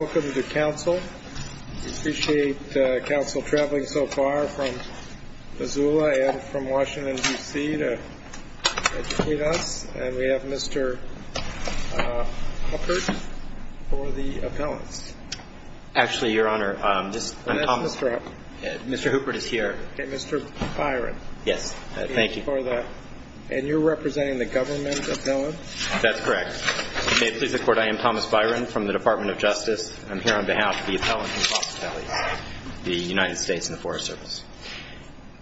Welcome to Council. We appreciate Council traveling so far from Missoula and from Washington, D.C. to meet us. And we have Mr. Huppert for the appellant. Actually, Your Honor, Mr. Huppert is here. Okay, Mr. Byron. Yes, thank you. And you're representing the government appellant? That's correct. May it please the Court, I am Thomas Byron from the Department of Justice. I'm here on behalf of the Appellants and Prosecutors, the United States and the Forest Service.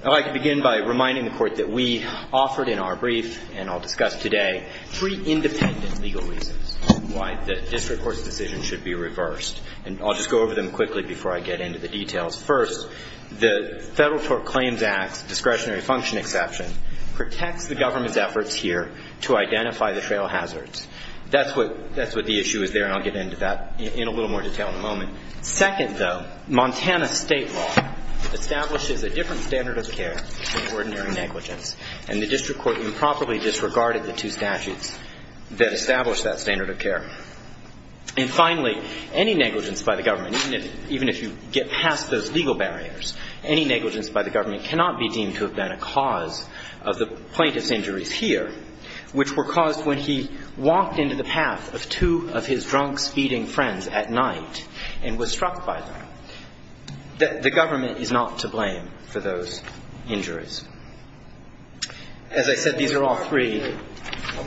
I'd like to begin by reminding the Court that we offered in our brief, and I'll discuss today, three independent legal reasons why the district court's decision should be reversed. And I'll just go over them quickly before I get into the details. First, the Federal Proclaims Act discretionary function exception protects the government's efforts here to identify the trail hazards. That's what the issue is there, and I'll get into that in a little more detail in a moment. Second, Montana state law establishes a different standard of care than ordinary negligence. And the district court improperly disregarded the two statutes that establish that standard of care. And finally, any negligence by the government, even if you get past those legal barriers, any negligence by the government cannot be deemed to have been a cause of the plaintiff's injuries here, which were caused when he walked into the path of two of his drunk, speeding friends at night and was struck by them. The government is not to blame for those injuries. As I said, these are all three.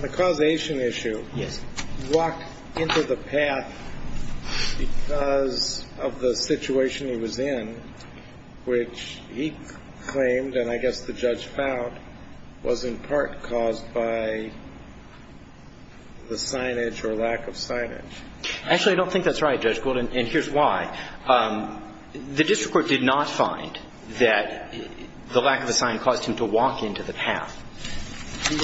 The causation issue, he walked into the path because of the situation he was in, which he claimed, and I guess the judge found, was in part caused by the signage or lack of signage. Actually, I don't think that's right, Judge Gould, and here's why. The district court did not find that the lack of a sign caused him to walk into the path.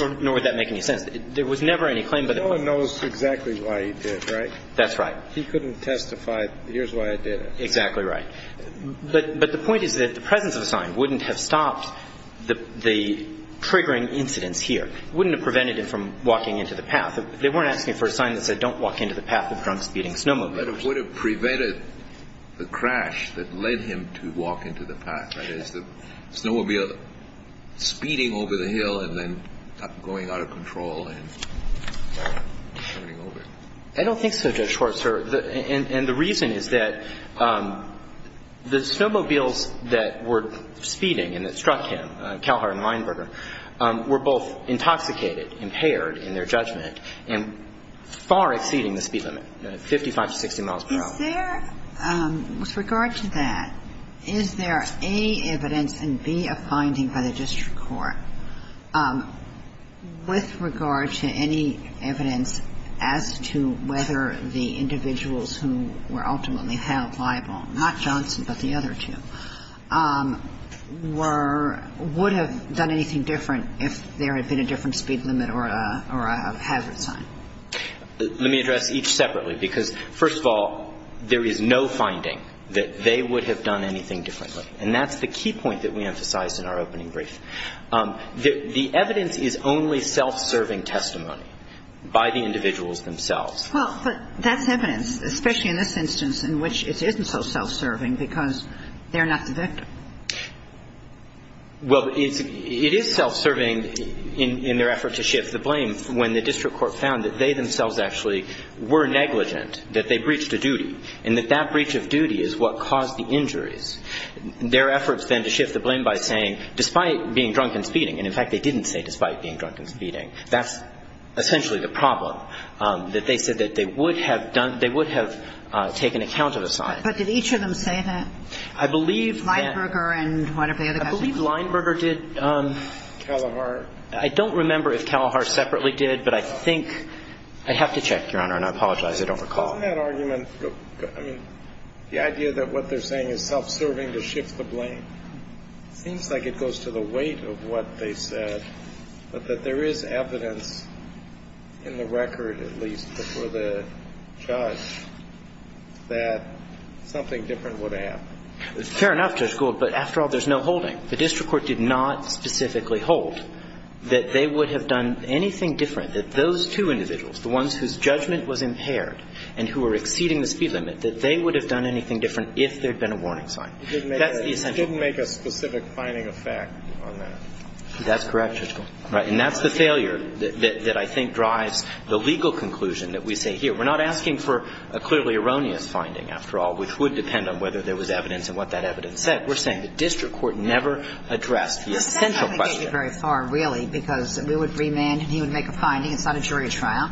Or would that make any sense? There was never any claim. No one knows exactly why he did it, right? That's right. He couldn't testify, here's why I did it. Exactly right. But the point is that the presence of a sign wouldn't have stopped the triggering incident here. It wouldn't have prevented him from walking into the path. They weren't asking for a sign that said, don't walk into the path of drunk, speeding snowmobilers. But it would have prevented the crash that led him to walk into the path. It's the snowmobile speeding over the hill and then going out of control and turning over. I don't think so, Judge Horsford. And the reason is that the snowmobiles that were speeding and that struck him, Calhoun and Weinberger, were both intoxicated, impaired in their judgment, and far exceeding the speed limit, 55 to 60 miles per hour. With regard to that, is there A, evidence, and B, a finding by the district court, with regard to any evidence as to whether the individuals who were ultimately held liable, not Johnson but the other two, would have done anything different if there had been a different speed limit or a hazard sign? Let me address each separately because, first of all, there is no finding that they would have done anything differently. And that's the key point that we emphasized in our opening brief. The evidence is only self-serving testimony by the individuals themselves. Well, but that's evidence, especially in this instance, in which it isn't so self-serving because they're not the victim. Well, it is self-serving in their effort to shift the blame. When the district court found that they themselves actually were negligent, that they breached a duty, and that that breach of duty is what caused the injuries, their efforts then to shift the blame by saying, despite being drunk and speeding, and, in fact, they didn't say despite being drunk and speeding, that's essentially the problem, that they said that they would have taken account of the signs. But did each of them say that? I believe... Weinberger and one of the other guys. I believe Weinberger did. Kalahar. I don't remember if Kalahar separately did, but I think... I have to check, Your Honor, and I apologize, I don't recall. In that argument, the idea that what they're saying is self-serving to shift the blame, it seems like it goes to the weight of what they said, but that there is evidence in the record, at least, before the judge, that something different would have happened. Fair enough, Judge Gould, but after all, there's no holding. The district court did not specifically hold that they would have done anything different, that those two individuals, the ones whose judgment was impaired and who were exceeding the speed limit, that they would have done anything different if there had been a warning sign. It didn't make a specific finding of fact on them. That's correct, Judge Gould. Right, and that's the failure that I think drives the legal conclusion that we see here. We're not asking for a clearly erroneous finding, after all, which would depend on whether there was evidence and what that evidence said. We're saying the district court never addressed the essential question. That doesn't take it very far, really, because we would remand and he would make a finding in front of a jury trial,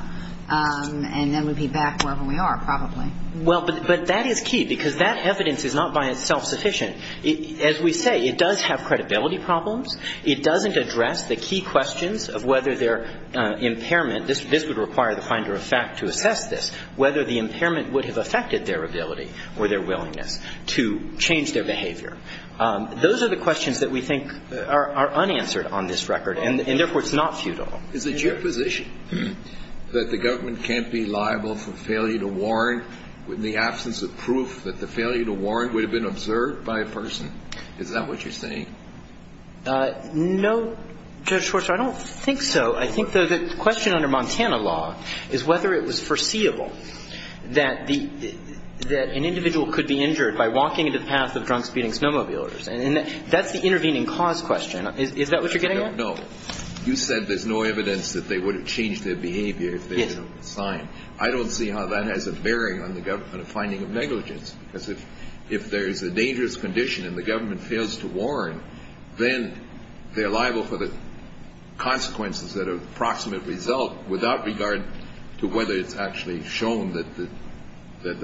and then we'd be back where we are, probably. Well, but that is key because that evidence is not by itself sufficient. As we say, it does have credibility problems. It doesn't address the key questions of whether their impairment, this would require the finder of fact to assess this, whether the impairment would have affected their ability or their willingness to change their behavior. Those are the questions that we think are unanswered on this record, and therefore it's not futile. Is it your position that the government can't be liable for failure to warn in the absence of proof that the failure to warn would have been observed by a person? Is that what you're saying? No, Judge Forster, I don't think so. I think the question under Montana law is whether it was foreseeable that an individual could be injured by walking into the paths of drunk-speeding snowmobilers, and that's the intervening cause question. Is that what you're getting at? No. You said there's no evidence that they would have changed their behavior if they had been on the sign. I don't see how that has a bearing on the government finding of negligence. If there is a dangerous condition and the government fails to warn, then they're liable for the consequences that have approximately developed without regard to whether it's actually shown that the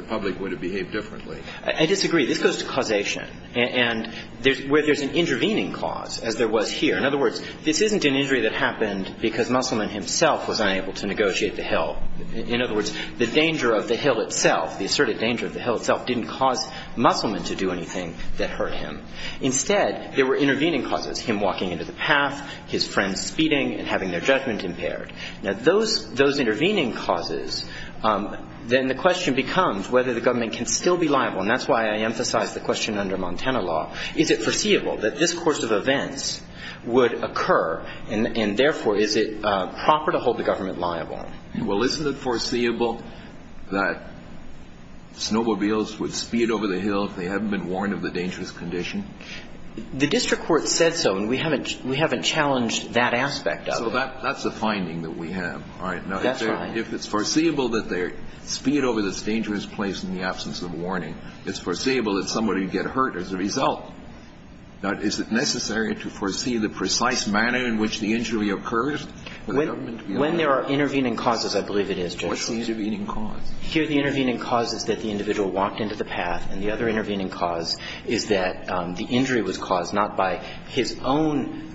public would have behaved differently. I disagree. This goes to causation, where there's an intervening cause, as there was here. In other words, this isn't an injury that happened because Musselman himself was unable to negotiate the hill. In other words, the danger of the hill itself, the asserted danger of the hill itself, didn't cause Musselman to do anything that hurt him. Instead, there were intervening causes, him walking into the path, his friends speeding, and having their judgment impaired. Now, those intervening causes, then the question becomes whether the government can still be liable, and that's why I emphasize the question under Montana law. Is it foreseeable that this course of events would occur, and therefore, is it proper to hold the government liable? Well, isn't it foreseeable that snowmobiles would speed over the hill if they hadn't been warned of the dangerous condition? The district court said so, and we haven't challenged that aspect of it. Well, that's a finding that we have. That's right. Now, if it's foreseeable that they speed over this dangerous place in the absence of warning, it's foreseeable that somebody would get hurt as a result. Now, is it necessary to foresee the precise manner in which the injury occurs? When there are intervening causes, I believe it is. What's the intervening cause? Here, the intervening cause is that the individual walked into the path, and the other intervening cause is that the injury was caused not by his own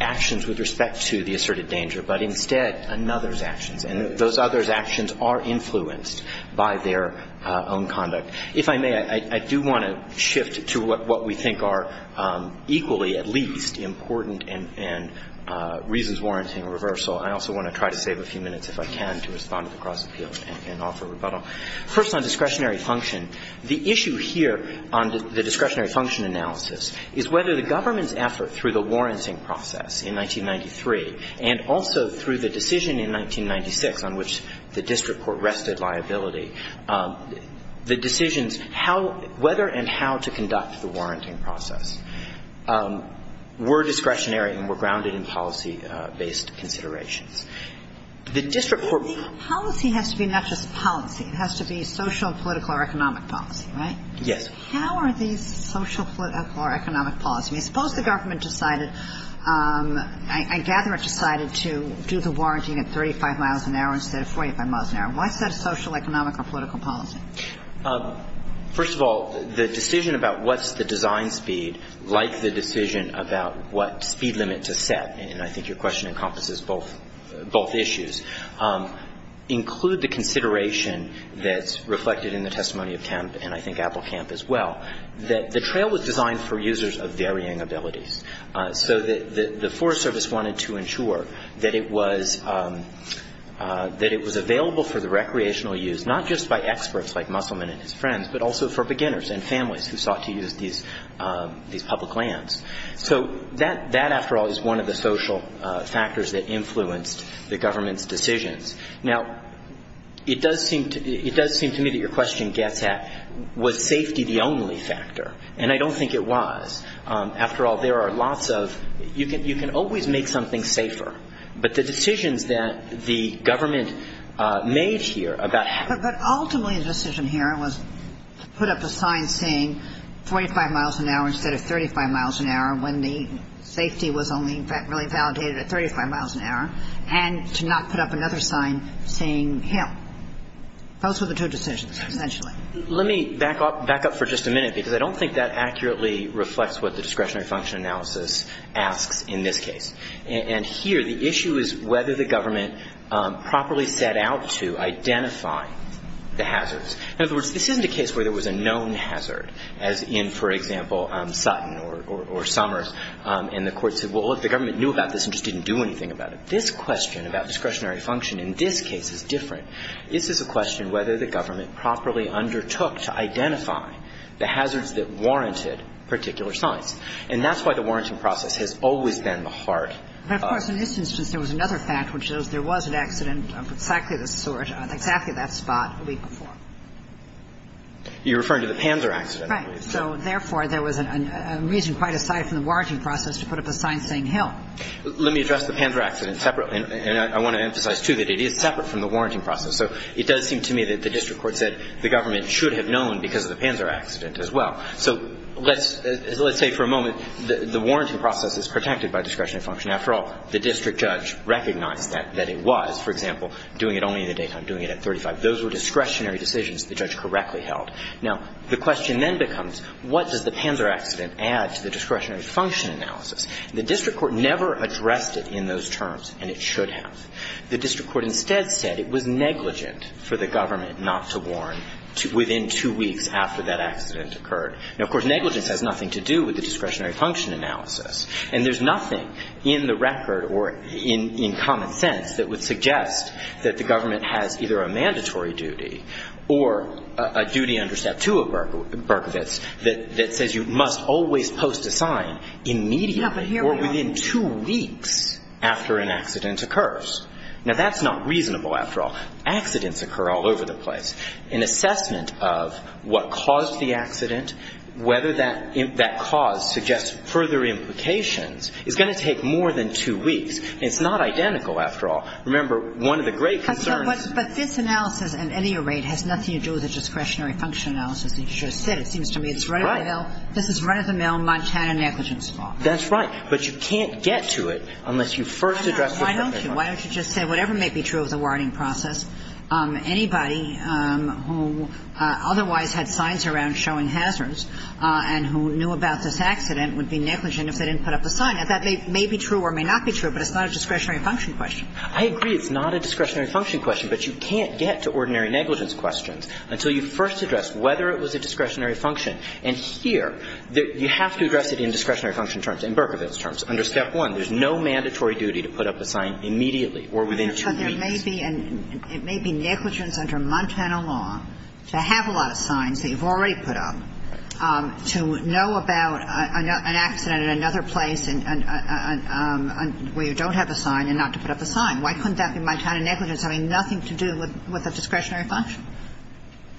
actions with respect to the asserted danger, but instead another's actions, and those others' actions are influenced by their own conduct. If I may, I do want to shift to what we think are equally, at least, important and reasons warranting reversal. I also want to try to save a few minutes, if I can, to respond to the prosecution and offer rebuttal. First on discretionary function, the issue here on the discretionary function analysis is whether the government's effort through the warranting process in 1993 and also through the decision in 1996 on which the district court rested liability, the decisions whether and how to conduct the warranting process were discretionary and were grounded in policy-based considerations. The district court... Policy has to be not just policy. It has to be social, political, or economic policy, right? Yes. How are these social, political, or economic policies? Suppose the government decided, I gather it decided to do the warranting at 35 miles an hour instead of 45 miles an hour. Why is that a social, economic, or political policy? First of all, the decision about what's the design speed like the decision about what speed limits are set, and I think your question encompasses both issues, include the consideration that's reflected in the testimony of Kemp, and I think Apple Kemp as well, that the trail was designed for users of varying ability. The Forest Service wanted to ensure that it was available for the recreational use, not just by experts like Musselman and his friends, but also for beginners and families who sought to use these public lands. So that, after all, is one of the social factors that influenced the government's decisions. Now, it does seem to me that your question gets at was safety the only factor, and I don't think it was. After all, there are lots of... You can always make something safer, but the decisions that the government made here about... But ultimately, the decision here was to put up a sign saying 45 miles an hour instead of 35 miles an hour, when the safety was only, in fact, really validated at 35 miles an hour, and to not put up another sign saying Kemp. Those were the two decisions, essentially. Let me back up for just a minute, because I don't think that accurately reflects what the discretionary function analysis asks in this case. Here, the issue is whether the government properly set out to identify the hazards. In other words, this isn't a case where there was a known hazard, as in, for example, Sutton or Summers, and the court said, well, if the government knew about this and just didn't do anything about it. This question about discretionary function in this case is different. This is a question whether the government properly undertook to identify the hazards that warranted particular signs. And that's why the warranting process has always been the heart. You're referring to the Panzer accident. Let me address the Panzer accident separately, and I want to emphasize, too, that it is separate from the warranting process. It does seem to me that the district court said the government should have known because of the Panzer accident as well. So, let's say for a moment, the warranting process is protected by discretionary function. After all, the district judge recognized that it was, for example, doing it only in a day time, doing it at 35. Those were discretionary decisions the judge correctly held. Now, the question then becomes, what does the Panzer accident add to the discretionary function analysis? The district court never addressed it in those terms, and it should have. The district court instead said it was negligent for the government not to warrant within two weeks after that accident occurred. Now, of course, negligence has nothing to do with the discretionary function analysis. And there's nothing in the record or in common sense that would suggest that the government had either a mandatory duty or a duty under Step 2 of Berkowitz that says you must always post a sign immediately or within two weeks after an accident occurs. Now, that's not reasonable, after all. Accidents occur all over the place. An assessment of what caused the accident, whether that cause suggests further implications, is going to take more than two weeks. It's not identical, after all. Remember, one of the great concerns... But this analysis, at any rate, has nothing to do with the discretionary function analysis that you just said. It seems to me it's run-of-the-mill. This is run-of-the-mill Montana negligence law. That's right. But you can't get to it unless you first address the... Why don't you just say whatever may be true of the warning process, anybody who otherwise had signs around showing hazards and who knew about this accident would be negligent if they didn't put up a sign. Now, that may be true or may not be true, but it's not a discretionary function question. I agree it's not a discretionary function question, but you can't get to ordinary negligence questions until you first address whether it was a discretionary function. And here, you have to address it in discretionary function terms, in Berkowitz terms, under Step 1. There's no mandatory duty to put up a sign immediately or within two years. But there may be negligence under Montana law to have a lot of signs that you've already put up to know about an accident at another place where you don't have a sign and not to put up a sign. Why couldn't that be Montana negligence having nothing to do with the discretionary function?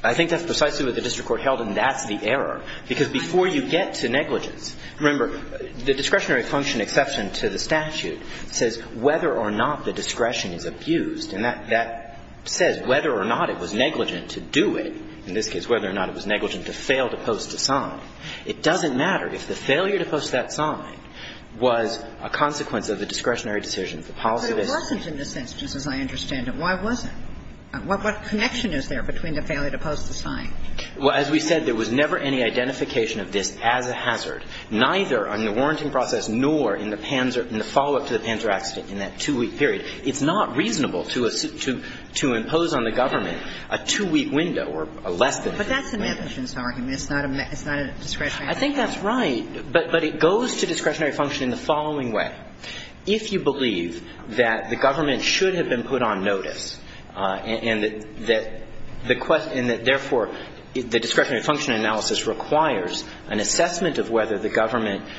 I think that's precisely what the district court held, and that's the error. Because before you get to negligence, remember, the discretionary function exception to the statute says whether or not the discretion is abused. And that says whether or not it was negligent to do it, in this case, whether or not it was negligent to fail to post a sign. It doesn't matter if the failure to post that sign was a consequence of the discretionary decision. But it wasn't in this instance, as I understand it. Why was it? What connection is there between the failure to post the sign? Well, as we said, there was never any identification of this as a hazard, neither on the warranting process nor in the follow-up to the Panzer accident in that two-week period. It's not reasonable to impose on the government a two-week window or less. But that's a negligence argument. It's not a discretionary function. I think that's right. But it goes to discretionary function in the following way. If you believe that the government should have been put on notice and that therefore the discretionary function analysis requires an assessment of whether the government's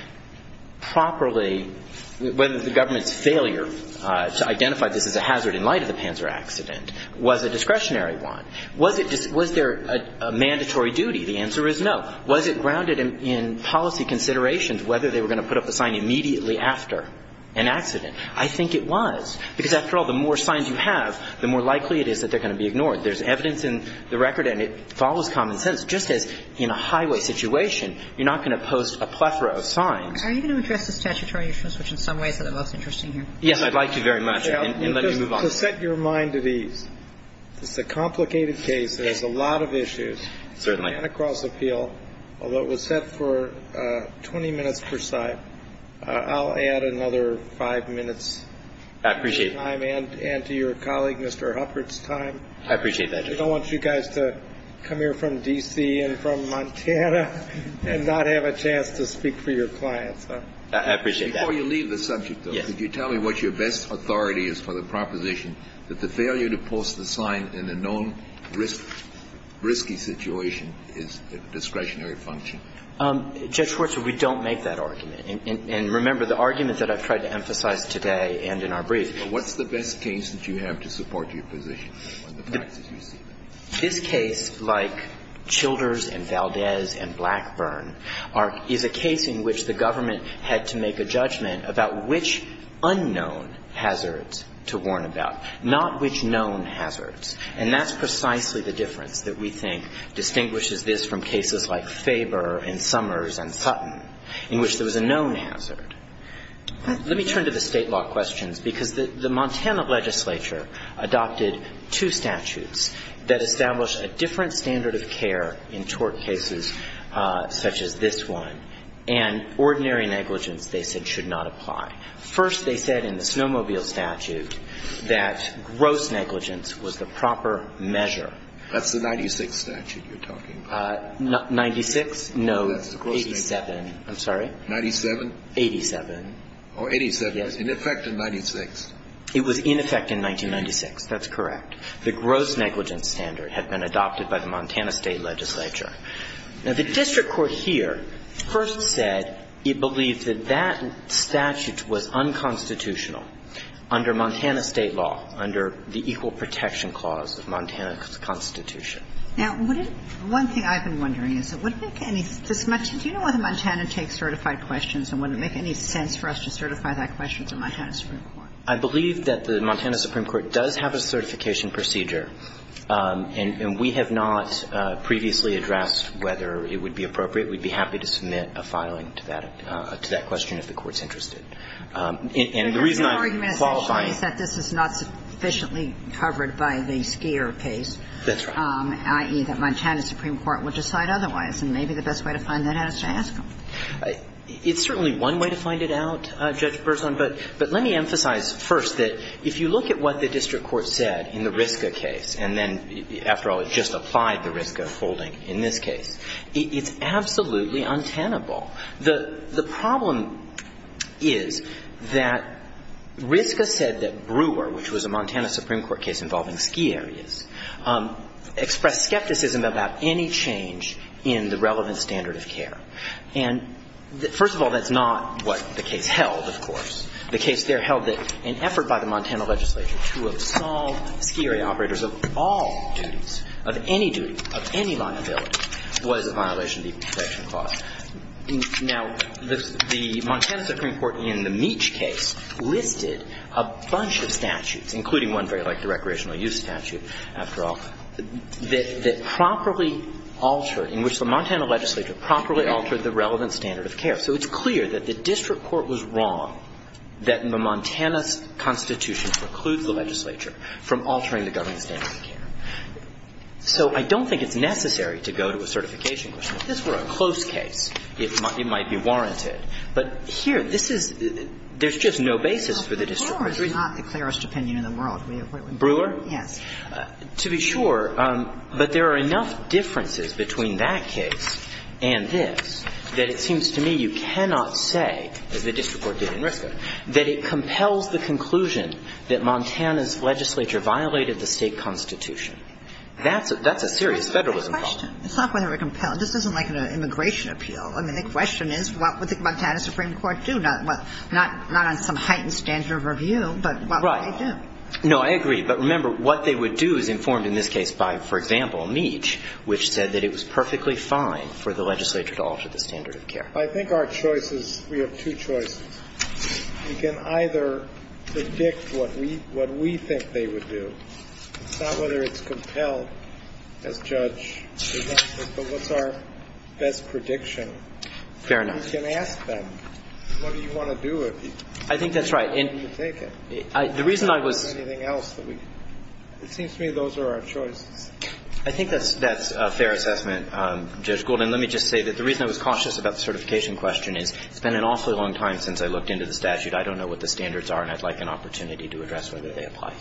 failure to identify this as a hazard in light of the Panzer accident was a discretionary one, was there a mandatory duty? The answer is no. Was it grounded in policy considerations, whether they were going to put up a sign immediately after an accident? I think it was. Because after all, the more signs you have, the more likely it is that they're going to be ignored. There's evidence in the record, and it follows common sense, that just as in a highway situation, you're not going to post a plethora of signs. Are you going to address this statutory instrument switch in some way for the most interest of you? Yes, I'd like to very much, and let me move on. To set your mind to the complicated case, there's a lot of issues. Certainly. And across the field. Although it was set for 20 minutes per side, I'll add another five minutes. I appreciate that. And to your colleague, Mr. Hufford's time. I appreciate that, Jim. I don't want you guys to come here from D.C. and from Montana and not have a chance to speak for your clients. I appreciate that. Before you leave the subject, though, could you tell me what your best authority is for the proposition that the failure to post a sign in a known risky situation is a discretionary function? Judge Schwartz, we don't make that argument. And remember, the argument that I've tried to emphasize today and in our briefs. What's the best case that you have to support your position? This case, like Childers and Valdez and Blackburn, is a case in which the government had to make a judgment about which unknown hazards to warn about, not which known hazards. And that's precisely the difference that we think distinguishes this from cases like Faber and Summers and Putnam, in which there was a known hazard. Let me turn to the state law question, because the Montana legislature adopted two statutes that established a different standard of care in tort cases such as this one. And ordinary negligence, they said, should not apply. First, they said in the Snowmobile statute that gross negligence was the proper measure. That's the 96 statute you're talking about. 96? No, 87. I'm sorry? 97? 87. Oh, 87. In effect in 96. It was in effect in 1996. That's correct. The gross negligence standard had been adopted by the Montana state legislature. Now, the district court here first said it believed that that statute was unconstitutional under Montana state law, under the Equal Protection Clause of Montana Constitution. Now, one thing I've been wondering is, do you know whether Montana takes certified questions and would it make any sense for us to certify that question to Montana Supreme Court? I believe that the Montana Supreme Court does have a certification procedure, and we have not previously addressed whether it would be appropriate. We'd be happy to submit a filing to that question if the court's interested. And the reason I'm qualifying is that this is not sufficiently covered by the SCARE case, i.e., that Montana Supreme Court would decide otherwise, and maybe the best way to find that out is to ask them. It's certainly one way to find it out, Judge Burson, but let me emphasize first that if you look at what the district court said in the Ritka case, and then, after all, it just applied the Ritka holding in this case, it's absolutely untenable. The problem is that Ritka said that Brewer, which was a Montana Supreme Court case involving ski areas, expressed skepticism about any change in the relevant standard of care. And, first of all, that's not what the case held, of course. The case there held that an effort by the Montana legislature to install ski area operators of all duties, of any duty, of any liability, was a violation of the inspection clause. Now, the Montana Supreme Court, in the Meach case, lifted a bunch of statutes, including one very like the recreational use statute, after all, that properly altered, in which the Montana legislature properly altered the relevant standard of care. So, it's clear that the district court was wrong that the Montana constitution precludes the legislature from altering the government standard of care. So, I don't think it's necessary to go to a certification court. If this were a close case, it might be warranted. But, here, there's just no basis for the district court. Brewer is not the clearest opinion in the world. Brewer? Yes. To be sure, but there are enough differences between that case and this that it seems to me you cannot say that the district court did it in Ritka, that it compels the conclusion that Montana's legislature violated the state constitution. That's a serious federal complaint. It's not whether it compels. This isn't like an immigration appeal. I mean, the question is, what would the Montana Supreme Court do? Not on some heightened standard of review, but what would they do? No, I agree. But, remember, what they would do is informed, in this case, by, for example, Meach, which said that it was perfectly fine for the legislature to alter the standard of care. I think our choices, we have two choices. We can either predict what we think they would do, it's not whether it compels the judge, but what's our best prediction? Fair enough. We can ask them, what do you want to do? I think that's right. What do you think? The reason I would... It seems to me those are our choices. I think that's a fair assessment, Judge Golden. Let me just say that the reason I was cautious about the certification question is it's been an awfully long time since I looked into the statute. I don't know what the standards are, and I'd like an opportunity to address whether they apply.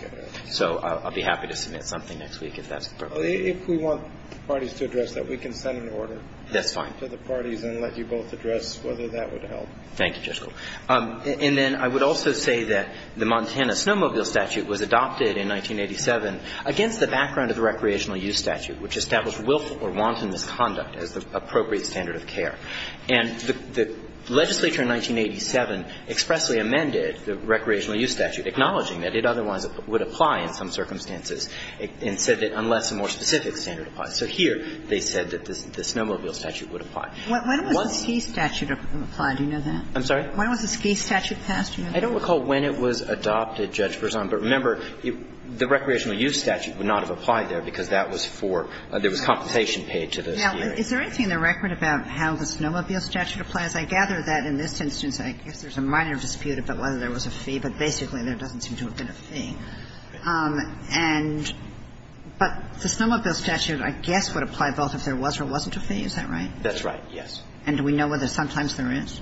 So, I'll be happy to submit something next week if that's appropriate. If we want parties to address that, we can send an order... That's fine. ...to the parties and let you both address whether that would help. Thank you, Judge Golden. And then I would also say that the Montana snowmobile statute was adopted in 1987 against the background of the recreational use statute, which established willful or wanton misconduct as the appropriate standard of care. And the legislature in 1987 expressly amended the recreational use statute, acknowledging that it otherwise would apply in some circumstances and said that unless a more specific standard applies. So, here they said that the snowmobile statute would apply. When was the ski statute applied? Do you know that? I'm sorry? When was the ski statute passed? I don't recall when it was adopted, Judge Berzon, but remember the recreational use statute would not have applied there because that was for... there was compensation paid to the... Now, is there anything in the record about how the snowmobile statute applies? I gather that in this instance I think there's a minor dispute about whether there was a fee, but basically there doesn't seem to have been a fee. But the snowmobile statute I guess would apply both if there was or wasn't a fee, is that right? That's right, yes. And do we know whether sometimes there is?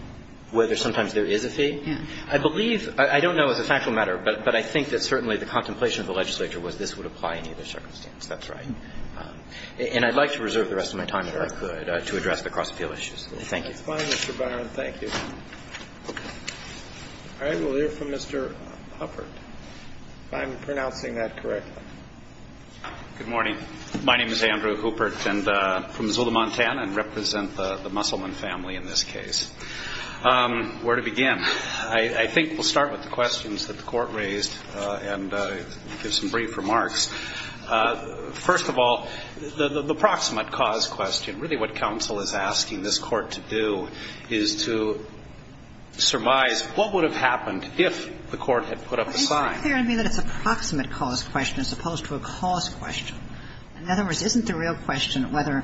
Whether sometimes there is a fee? Yes. I believe... I don't know if it's a factual matter, but I think that certainly the contemplation of the legislature was this would apply in either circumstance. That's right. And I'd like to reserve the rest of my time if I could to address the cross-field issues. Thank you. That's fine, Mr. Benner, and thank you. All right, we'll hear from Mr. Hufford. If I'm pronouncing that correctly. Good morning. My name is Andrew Hooper and I'm from Missoula, Montana, and represent the Musselman family in this case. Where to begin? I think we'll start with the questions that the Court raised and some brief remarks. First of all, the approximate cause question, really what counsel is asking this Court to do is to surmise what would have happened if the Court had put up a sign. It's clear to me that it's an approximate cause question as opposed to a cause question. In other words, isn't the real question whether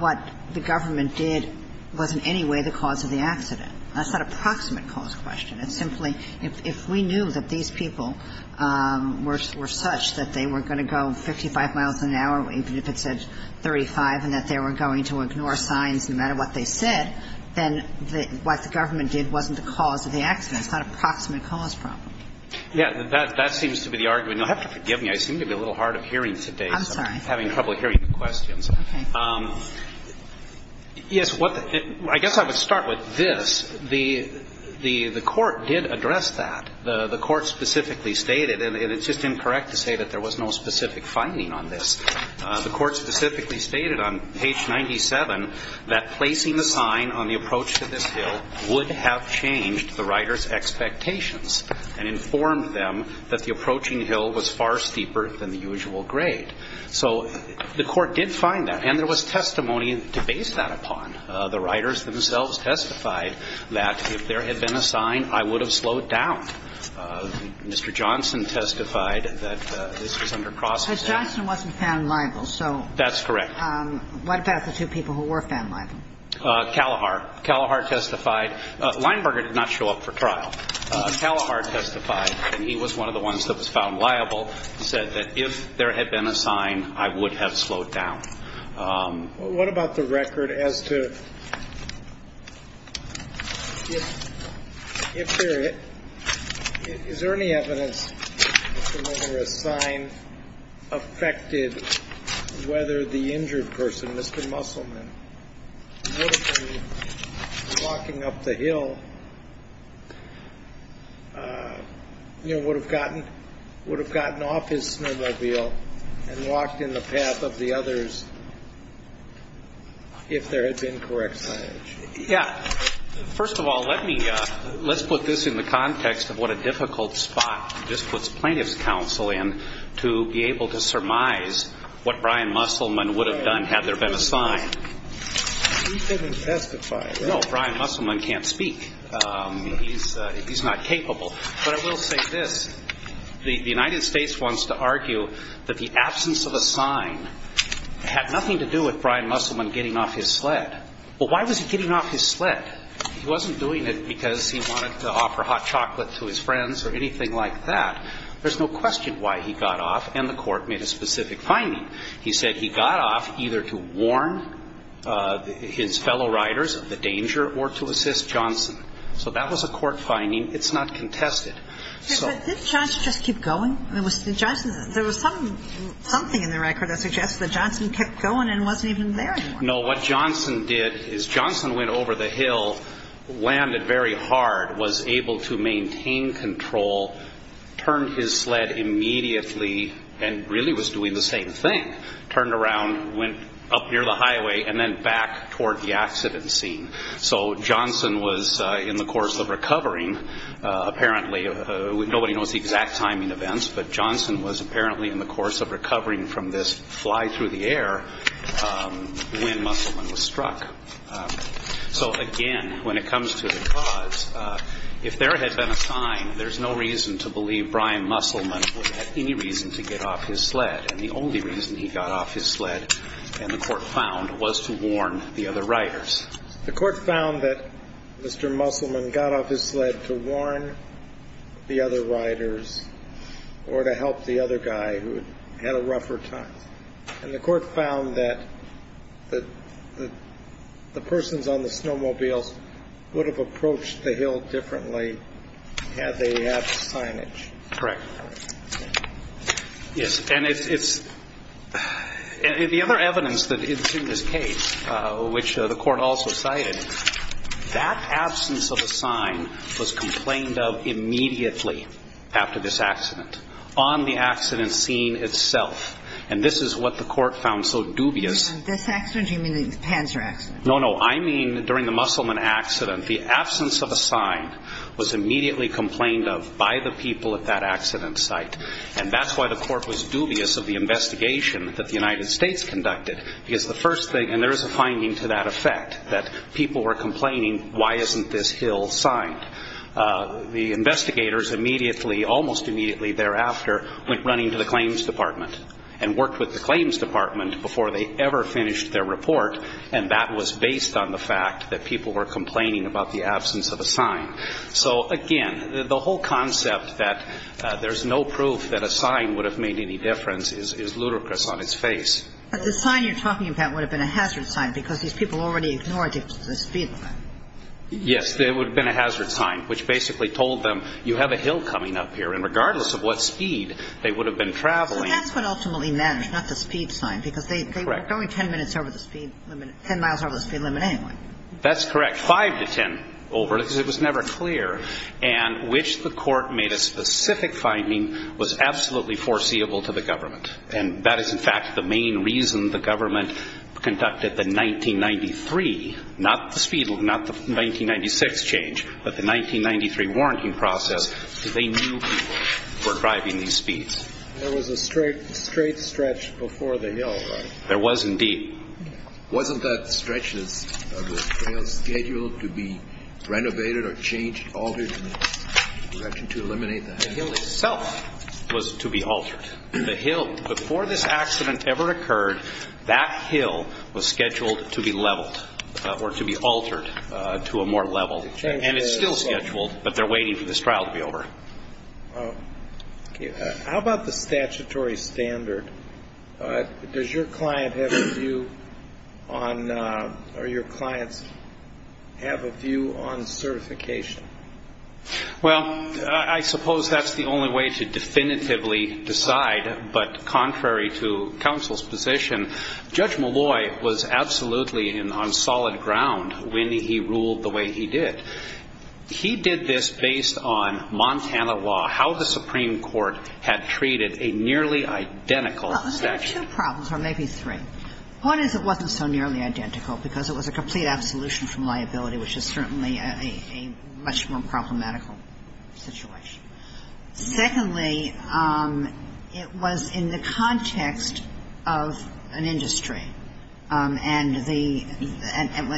what the government did was in any way the cause of the accident? That's not an approximate cause question. It's simply if we knew that these people were such that they were going to go 55 miles an hour, even if it says 35, and that they were going to ignore signs no matter what they said, then what the government did wasn't the cause of the accident. It's not an approximate cause problem. Yeah, that seems to be the argument. Now, Hufford, forgive me, I seem to be a little hard of hearing today. I'm sorry. I'm having trouble hearing the questions. Okay. Yes, I guess I would start with this. The Court did address that. The Court specifically stated, and it's just incorrect to say that there was no specific finding on this, the Court specifically stated on page 97 that placing the sign on the approach to this hill would have changed the riders' expectations and informed them that the approaching hill was far steeper than the usual grade. So the Court did find that, and there was testimony to base that upon. The riders themselves testified that if there had been a sign, I would have slowed down. Mr. Johnson testified that this was under cross-examination. But Johnson wasn't found liable, so. That's correct. What about the two people who were found liable? Calahar. Calahar testified. Lineberger did not show up for trial. Calahar testified, and he was one of the ones that was found liable. He said that if there had been a sign, I would have slowed down. What about the record as to if there is any evidence that a sign affected whether the injured person, Mr. Musselman, would have been walking up the hill, would have gotten off his snowmobile and walked in the path of the others if there had been correct signage? Yeah. First of all, let's put this in the context of what a difficult spot this puts plaintiff's counsel in to be able to surmise what Brian Musselman would have done had there been a sign. He didn't testify. No, Brian Musselman can't speak. He's not capable. But I will say this. The United States wants to argue that the absence of a sign had nothing to do with Brian Musselman getting off his sled. Well, why was he getting off his sled? He wasn't doing it because he wanted to offer hot chocolate to his friends or anything like that. There's no question why he got off, and the court made a specific finding. He said he got off either to warn his fellow riders of the danger or to assist Johnson. So that was a court finding. It's not contested. Did Johnson just keep going? There was something in the record, I suggest, that Johnson kept going and wasn't even there anymore. No, what Johnson did is Johnson went over the hill, landed very hard, was able to maintain control, turned his sled immediately, and really was doing the same thing. Turned around, went up near the highway, and then back toward the accident scene. So Johnson was in the course of recovering, apparently. Nobody knows the exact timing of events, but Johnson was apparently in the course of recovering from this fly-through-the-air when Musselman was struck. So, again, when it comes to the cause, if there had been a sign, there's no reason to believe Brian Musselman had any reason to get off his sled. And the only reason he got off his sled, and the court found, was to warn the other riders. The court found that Mr. Musselman got off his sled to warn the other riders or to help the other guy who had a rougher time. And the court found that the persons on the snowmobiles would have approached the hill differently had they had signage. Correct. Yes, and the other evidence that's in this case, which the court also cited, that absence of a sign was complained of immediately after this accident, on the accident scene itself. And this is what the court found so dubious. This accident, you mean the Panzer accident? No, no, I mean during the Musselman accident. The absence of a sign was immediately complained of by the people at that accident site. And that's why the court was dubious of the investigation that the United States conducted. Because the first thing, and there is a finding to that effect, that people were complaining, why isn't this hill signed? The investigators immediately, almost immediately thereafter, went running to the claims department and worked with the claims department before they ever finished their report. And that was based on the fact that people were complaining about the absence of a sign. So, again, the whole concept that there's no proof that a sign would have made any difference is ludicrous on its face. But the sign you're talking about would have been a hazard sign because these people already ignored the speed. Yes, it would have been a hazard sign, which basically told them you have a hill coming up here, and regardless of what speed, they would have been traveling. But that's what ultimately matters, not the speed sign, because they were only 10 minutes over the speed limit, 10 miles over the speed limit anyway. That's correct, 5 to 10 over, because it was never clear. And which the court made a specific finding was absolutely foreseeable to the government. And that is, in fact, the main reason the government conducted the 1993, not the speed limit, not the 1996 change, but the 1993 warranting process, because they knew people were driving these speeds. There was a straight stretch before the hill, right? There was, indeed. Wasn't that stretch scheduled to be renovated or changed, altered in order to eliminate that? The hill itself was to be altered. The hill before this accident ever occurred, that hill was scheduled to be leveled or to be altered to a more level. And it's still scheduled, but they're waiting for this trial to be over. How about the statutory standard? Does your client have a view on certification? Well, I suppose that's the only way to definitively decide, but contrary to counsel's position, Judge Malloy was absolutely on solid ground when he ruled the way he did. He did this based on Montana law, how the Supreme Court had treated a nearly identical statute. There were two problems, or maybe three. One is it wasn't so nearly identical because it was a complete absolution from liability, which is certainly a much more problematical situation. Secondly, it was in the context of an industry, and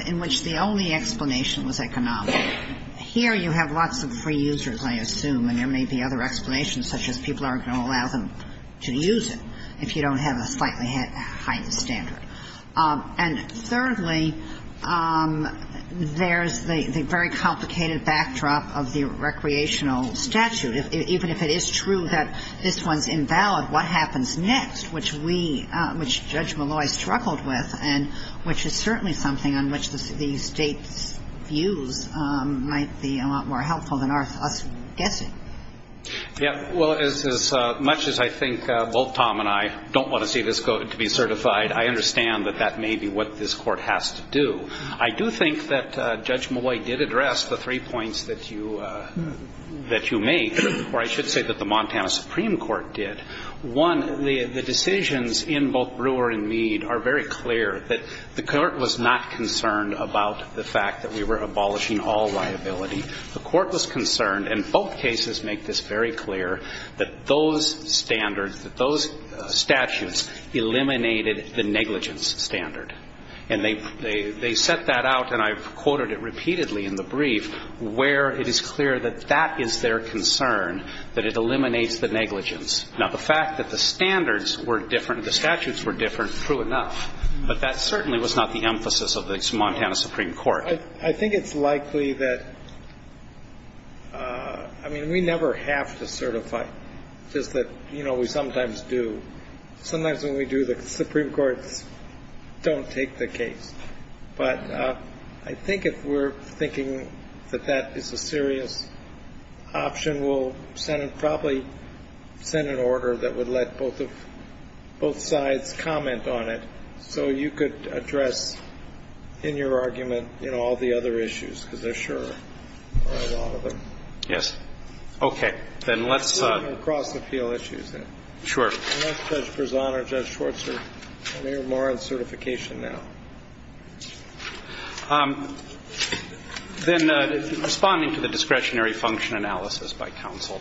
in which the only explanation was economic. Here you have lots of free users, I assume, and there may be other explanations, such as people aren't going to allow them to use it if you don't have a slightly heightened standard. And thirdly, there's the very complicated backdrop of the recreational statute. Even if it is true that this one's invalid, what happens next, which Judge Malloy struggled with, and which is certainly something on which the state's views might be a lot more helpful than our guessing. As much as I think both Tom and I don't want to see this court to be certified, I understand that that may be what this court has to do. I do think that Judge Malloy did address the three points that you made, or I should say that the Montana Supreme Court did. One, the decisions in both Brewer and Mead are very clear. The court was not concerned about the fact that we were abolishing all liability. The court was concerned, and both cases make this very clear, that those statutes eliminated the negligence standard. And they set that out, and I've quoted it repeatedly in the brief, where it is clear that that is their concern, that it eliminates the negligence. Now, the fact that the statutes were different, true enough, but that certainly was not the emphasis of the Montana Supreme Court. I think it's likely that we never have to certify, just that we sometimes do. Sometimes when we do, the Supreme Court doesn't take the case. But I think if we're thinking that that is a serious option, we'll probably send an order that would let both sides comment on it So you could address, in your argument, all the other issues, because there are a lot of them. Yes. Okay, then let's... We're going to cross the field issues now. Sure. Unless Judge Berzon or Judge Schwartz are more on certification now. Then, responding to the discretionary function analysis by counsel,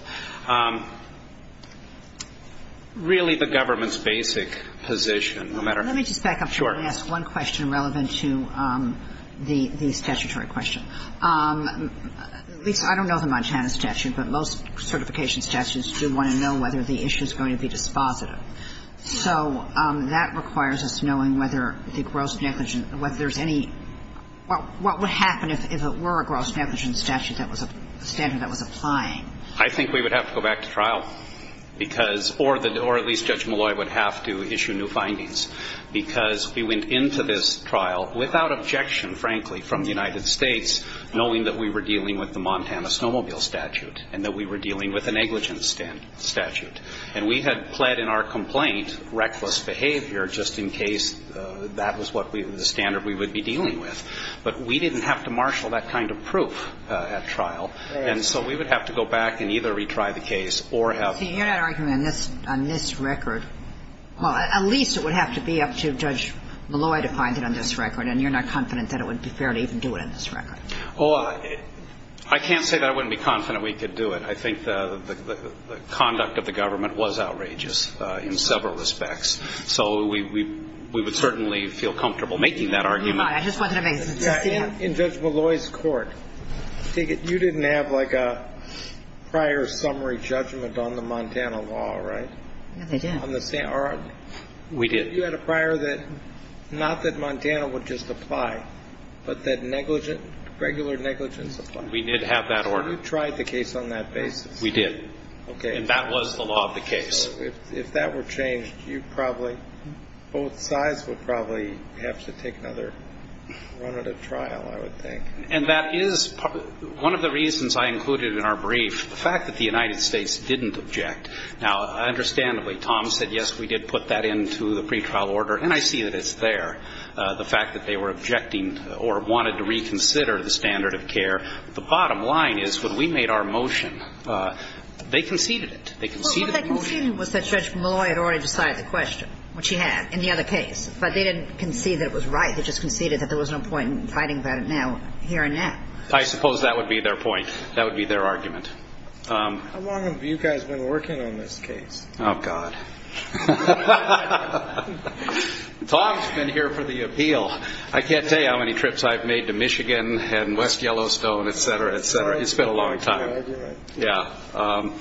really the government's basic position, no matter... Let me just back up just one question relevant to the statutory question. I don't know the Montana statute, but most certification statutes do want to know whether the issue is going to be dispositive. So that requires us knowing whether the gross negligence, what would happen if it were a gross negligence statute that was a standard that was applying. I think we would have to go back to trial. Or at least Judge Malloy would have to issue new findings. Because we went into this trial without objection, frankly, from the United States, knowing that we were dealing with the Montana snowmobile statute and that we were dealing with a negligence statute. And we had pled in our complaint reckless behavior, just in case that was the standard we would be dealing with. But we didn't have to marshal that kind of proof at trial. And so we would have to go back and either retry the case or have... You're not arguing on this record. Well, at least it would have to be up to Judge Malloy to find it on this record. And you're not confident that it would be fair to even do it on this record. Well, I can't say that I wouldn't be confident we could do it. I think the conduct of the government was outrageous in several respects. So we would certainly feel comfortable making that argument. I just wasn't... In Judge Malloy's court, you didn't have, like, a prior summary judgment on the Montana law, right? We did. You had a prior that not that Montana would just apply, but that regular negligence applies. We did have that order. You tried the case on that basis. We did. And that was the law of the case. If that were changed, you probably, both sides would probably have to take another trial, I would think. And that is one of the reasons I included in our brief the fact that the United States didn't object. Now, understandably, Tom said, yes, we did put that into the pretrial order, and I see that it's there, the fact that they were objecting or wanted to reconsider the standard of care. The bottom line is when we made our motion, they conceded it. They conceded the motion. Well, what they conceded was that Judge Malloy had already decided to question what she had in the other case. But they didn't concede that it was right. They just conceded that there was no point in fighting about it now, here and now. I suppose that would be their point. That would be their argument. How long have you guys been working on this case? Oh, God. Tom's been here for the appeal. I can't say how many trips I've made to Michigan and West Yellowstone, et cetera, et cetera. It's been a long time. I agree. Yeah.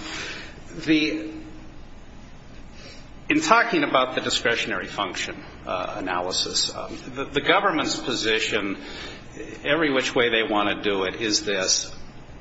In talking about the discretionary function analysis, the government's position, every which way they want to do it, is this.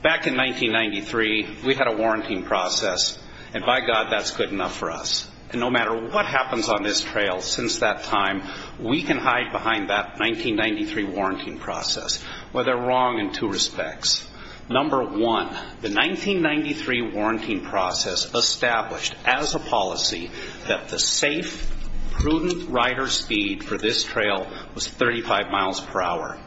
Back in 1993, we had a warranting process, and, by God, that's good enough for us. And no matter what happens on this trail since that time, we can hide behind that 1993 warranting process. Well, they're wrong in two respects. Number one, the 1993 warranting process established as a policy that the safe, prudent rider speed for this trail was 35 miles per hour.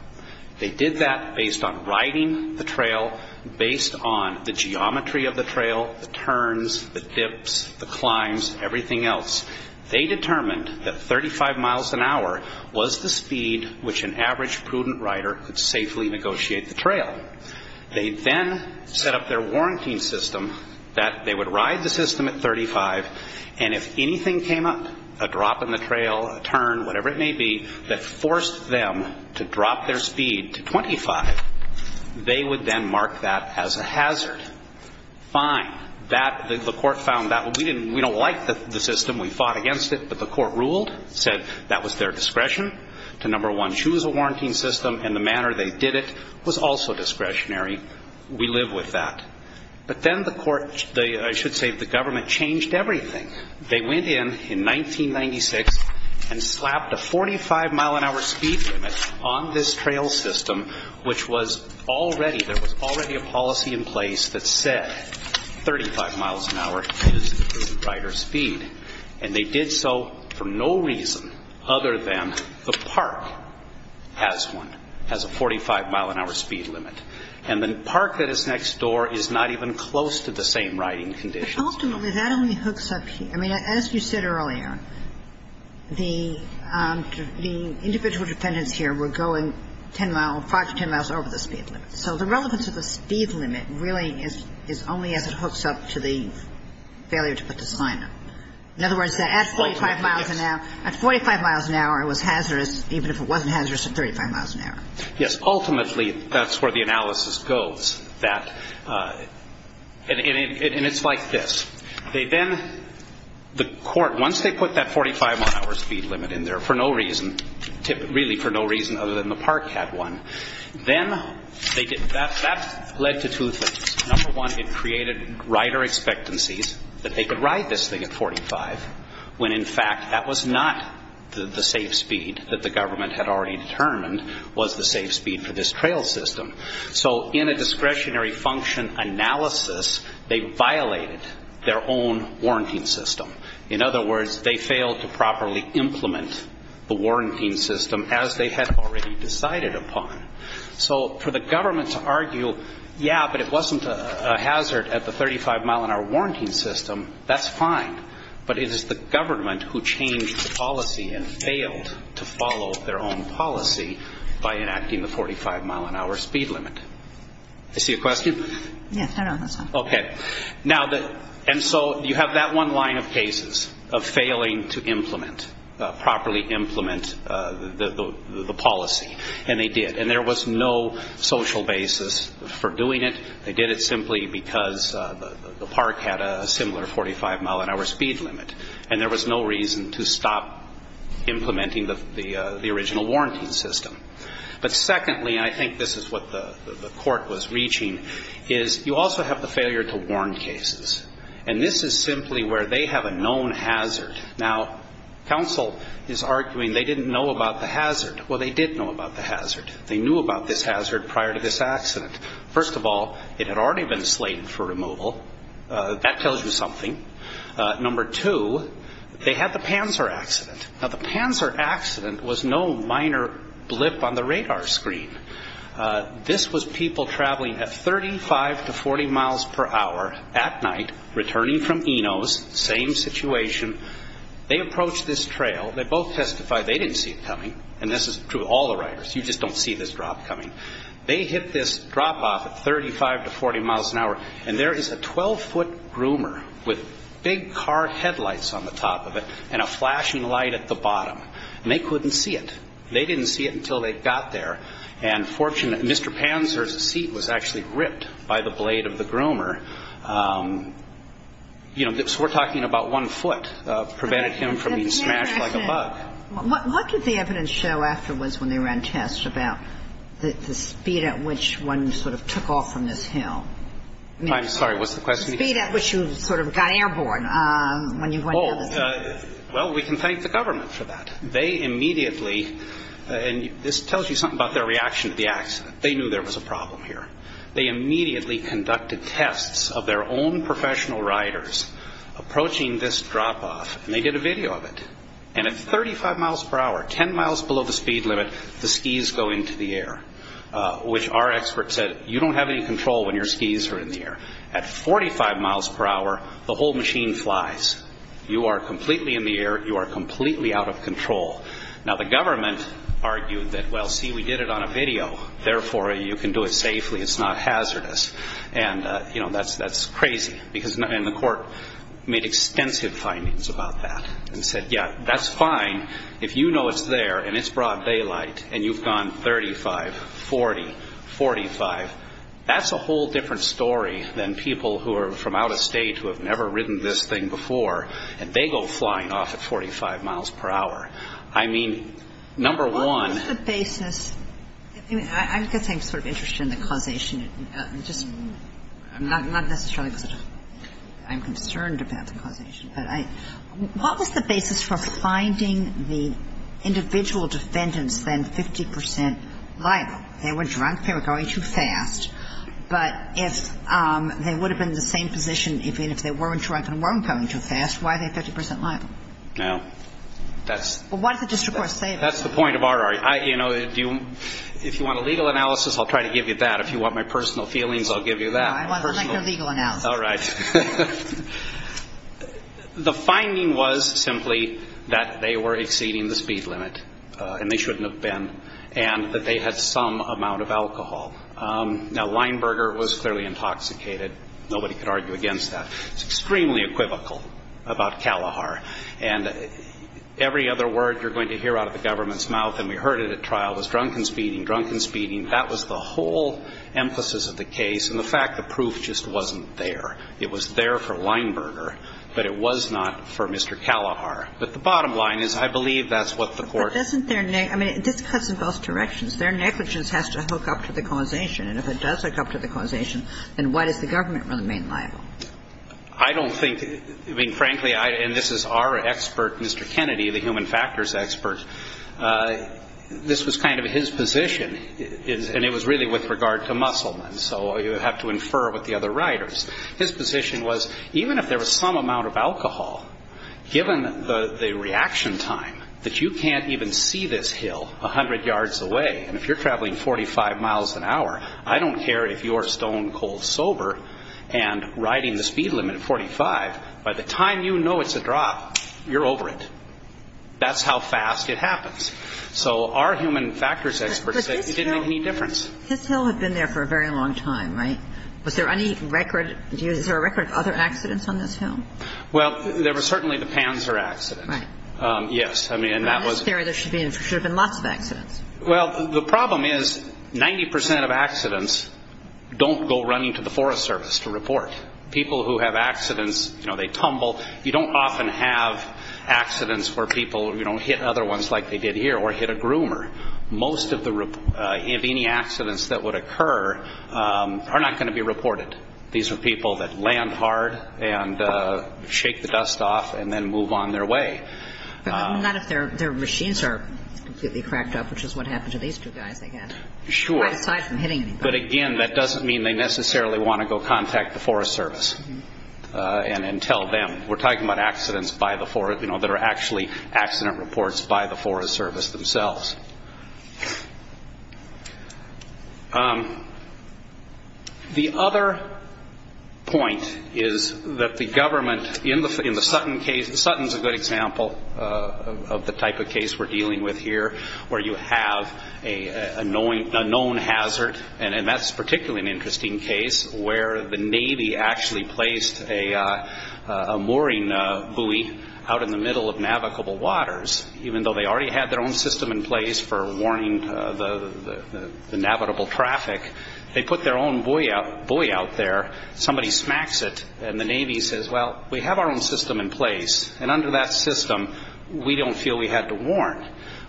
They did that based on riding the trail, based on the geometry of the trail, the turns, the dips, the climbs, everything else. They determined that 35 miles an hour was the speed which an average prudent rider could safely negotiate the trail. They then set up their warranting system that they would ride the system at 35, and if anything came up, a drop in the trail, a turn, whatever it may be, that forced them to drop their speed to 25, they would then mark that as a hazard. Fine. The court found that. We don't like the system. We fought against it. But the court ruled, said that was their discretion to, number one, choose a warranting system and the manner they did it was also discretionary. We live with that. But then the court, I should say the government, changed everything. They went in in 1996 and slapped a 45-mile-an-hour speed limit on this trail system, which was already, there was already a policy in place that said 35 miles an hour is prudent rider speed. And they did so for no reason other than the park has one, has a 45-mile-an-hour speed limit. And the park that is next door is not even close to the same riding conditions. But ultimately that only hooks up here. I mean, as you said earlier, the individual defendant here would go five to ten miles over the speed limit. So the relevance of the speed limit really is only as it hooks up to the failure to put the sign up. In other words, at 45 miles an hour it was hazardous, even if it wasn't hazardous at 35 miles an hour. Yes, ultimately that's where the analysis goes. And it's like this. They then, the court, once they put that 45-mile-an-hour speed limit in there for no reason, really for no reason other than the park had one, then that led to two things. Number one, it created rider expectancies that they could ride this thing at 45, when in fact that was not the safe speed that the government had already determined was the safe speed for this trail system. So in a discretionary function analysis, they violated their own warranting system. In other words, they failed to properly implement the warranting system as they had already decided upon. So for the government to argue, yeah, but it wasn't a hazard at the 35-mile-an-hour warranting system, that's fine. But it is the government who changed the policy and failed to follow their own policy by enacting the 45-mile-an-hour speed limit. Do you see a question? Yes, I don't. Okay. And so you have that one line of cases of failing to properly implement the policy, and they did. And there was no social basis for doing it. They did it simply because the park had a similar 45-mile-an-hour speed limit, and there was no reason to stop implementing the original warranting system. But secondly, and I think this is what the court was reaching, is you also have the failure to warn cases. And this is simply where they have a known hazard. Now, counsel is arguing they didn't know about the hazard. Well, they did know about the hazard. They knew about this hazard prior to this accident. First of all, it had already been slated for removal. That tells you something. Number two, they had the Panzer accident. Now, the Panzer accident was no minor blip on the radar screen. This was people traveling at 35 to 40 miles per hour at night, returning from Enos, same situation. They approached this trail. They both testified they didn't see it coming, and this is true of all the riders. You just don't see this drop coming. They hit this drop off at 35 to 40 miles an hour, and there is a 12-foot groomer with big car headlights on the top of it and a flashing light at the bottom, and they couldn't see it. They didn't see it until they got there. And Mr. Panzer's seat was actually ripped by the blade of the groomer. We're talking about one foot preventing him from being smashed like a bug. What did the evidence show afterwards when they ran tests about the speed at which one sort of took off from this hill? I'm sorry, what's the question? The speed at which you sort of got airborne when you went down the hill. Well, we can thank the government for that. They immediately, and this tells you something about their reaction to the accident. They knew there was a problem here. They immediately conducted tests of their own professional riders approaching this drop off, and they did a video of it. And at 35 miles per hour, 10 miles below the speed limit, the skis go into the air, which our expert said, you don't have any control when your skis are in the air. At 45 miles per hour, the whole machine flies. You are completely in the air. You are completely out of control. Now, the government argued that, well, see, we did it on a video. Therefore, you can do it safely. It's not hazardous. And, you know, that's crazy. And the court made extensive findings about that and said, yeah, that's fine. If you know it's there and it's broad daylight and you've gone 35, 40, 45, that's a whole different story than people who are from out of state who have never ridden this thing before, and they go flying off at 45 miles per hour. I mean, number one. What was the basis? I guess I'm sort of interested in the causation. I'm not necessarily concerned about the causation. What was the basis for finding the individual defendants then 50% liable? They were drunk. They were going too fast. But if they would have been in the same position, even if they weren't drunk and weren't going too fast, why are they 30% liable? Well, that's the point of our argument. You know, if you want a legal analysis, I'll try to give you that. If you want my personal feelings, I'll give you that. No, I want to make a legal analysis. All right. The finding was simply that they were exceeding the speed limit, and they shouldn't have been, and that they had some amount of alcohol. Now, Leinberger was clearly intoxicated. Nobody could argue against that. It's extremely equivocal about Kalahar. And every other word you're going to hear out of the government's mouth, and we heard it at trial, was drunken speeding, drunken speeding. That was the whole emphasis of the case, and the fact of proof just wasn't there. It was there for Leinberger, but it was not for Mr. Kalahar. But the bottom line is I believe that's what the court ---- I mean, this cuts in both directions. Their negligence has to hook up to the causation, and if it does hook up to the causation, then why did the government run the main file? I don't think, I mean, frankly, and this is our expert, Mr. Kennedy, the human factors expert, this was kind of his position, and it was really with regard to Musselman, so you have to infer with the other writers. His position was even if there was some amount of alcohol, given the reaction time that you can't even see this hill 100 yards away, and if you're traveling 45 miles an hour, I don't care if you're stone-cold sober and riding the speed limit of 45, by the time you know it's a drop, you're over it. That's how fast it happens. So our human factors experts didn't make any difference. But this hill had been there for a very long time, right? Was there any record of other accidents on this hill? Well, there was certainly the Panzer accident. Right. Yes, I mean, that was... There should have been lots of accidents. Well, the problem is 90% of accidents don't go running to the Forest Service to report. People who have accidents, you know, they tumble. You don't often have accidents where people, you know, hit other ones like they did here or hit a groomer. Most of any accidents that would occur are not going to be reported. These are people that land hard and shake the dust off and then move on their way. Not if their machines are completely cracked up, which is what happened to these two guys, I guess. Sure. Aside from hitting them. But again, that doesn't mean they necessarily want to go contact the Forest Service and tell them. We're talking about accidents by the Forest, you know, that are actually accident reports by the Forest Service themselves. The other point is that the government, in the Sutton case, Sutton's a good example of the type of case we're dealing with here, where you have a known hazard, and that's particularly an interesting case, where the Navy actually placed a mooring buoy out in the middle of navigable waters, even though they already had their own system in place for warning the navigable traffic. They put their own buoy out there. Somebody smacks it, and the Navy says, well, we have our own system in place, and under that system, we don't feel we have to warn.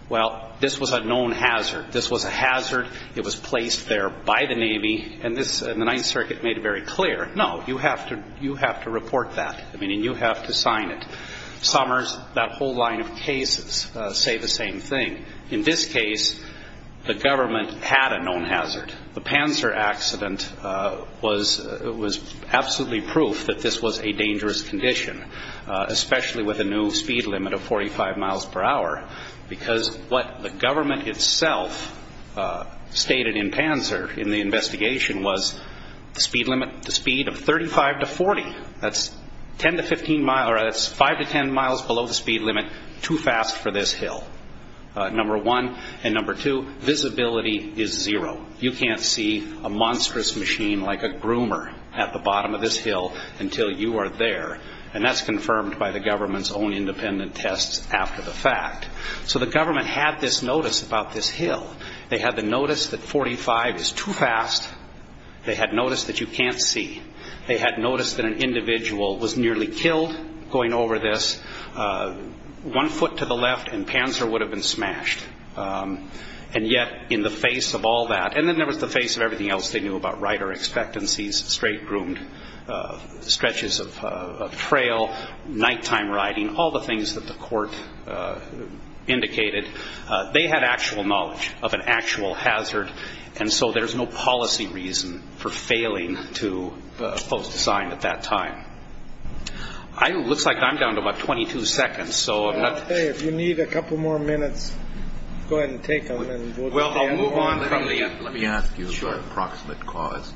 Well, this was a known hazard. This was a hazard. It was placed there by the Navy, and the Ninth Circuit made it very clear, no, you have to report that. I mean, you have to sign it. Summers, that whole line of cases say the same thing. In this case, the government had a known hazard. The Panzer accident was absolutely proof that this was a dangerous condition, especially with a new speed limit of 45 miles per hour, because what the government itself stated in Panzer, in the investigation, was the speed limit, the speed of 35 to 40, that's 5 to 10 miles below the speed limit, too fast for this hill, number one. And number two, visibility is zero. You can't see a monstrous machine like a groomer at the bottom of this hill until you are there, and that's confirmed by the government's own independent tests after the fact. So the government had this notice about this hill. They had the notice that 45 is too fast. They had notice that you can't see. They had notice that an individual was nearly killed going over this, one foot to the left and Panzer would have been smashed. And yet, in the face of all that, and then there was the face of everything else they knew about rider expectancies, straight groomed, stretches of trail, nighttime riding, all the things that the court indicated, they had actual knowledge of an actual hazard, and so there's no policy reason for failing to post the sign at that time. It looks like I'm down to about 22 seconds. If you need a couple more minutes, go ahead and take them. Let me ask you about approximate cause.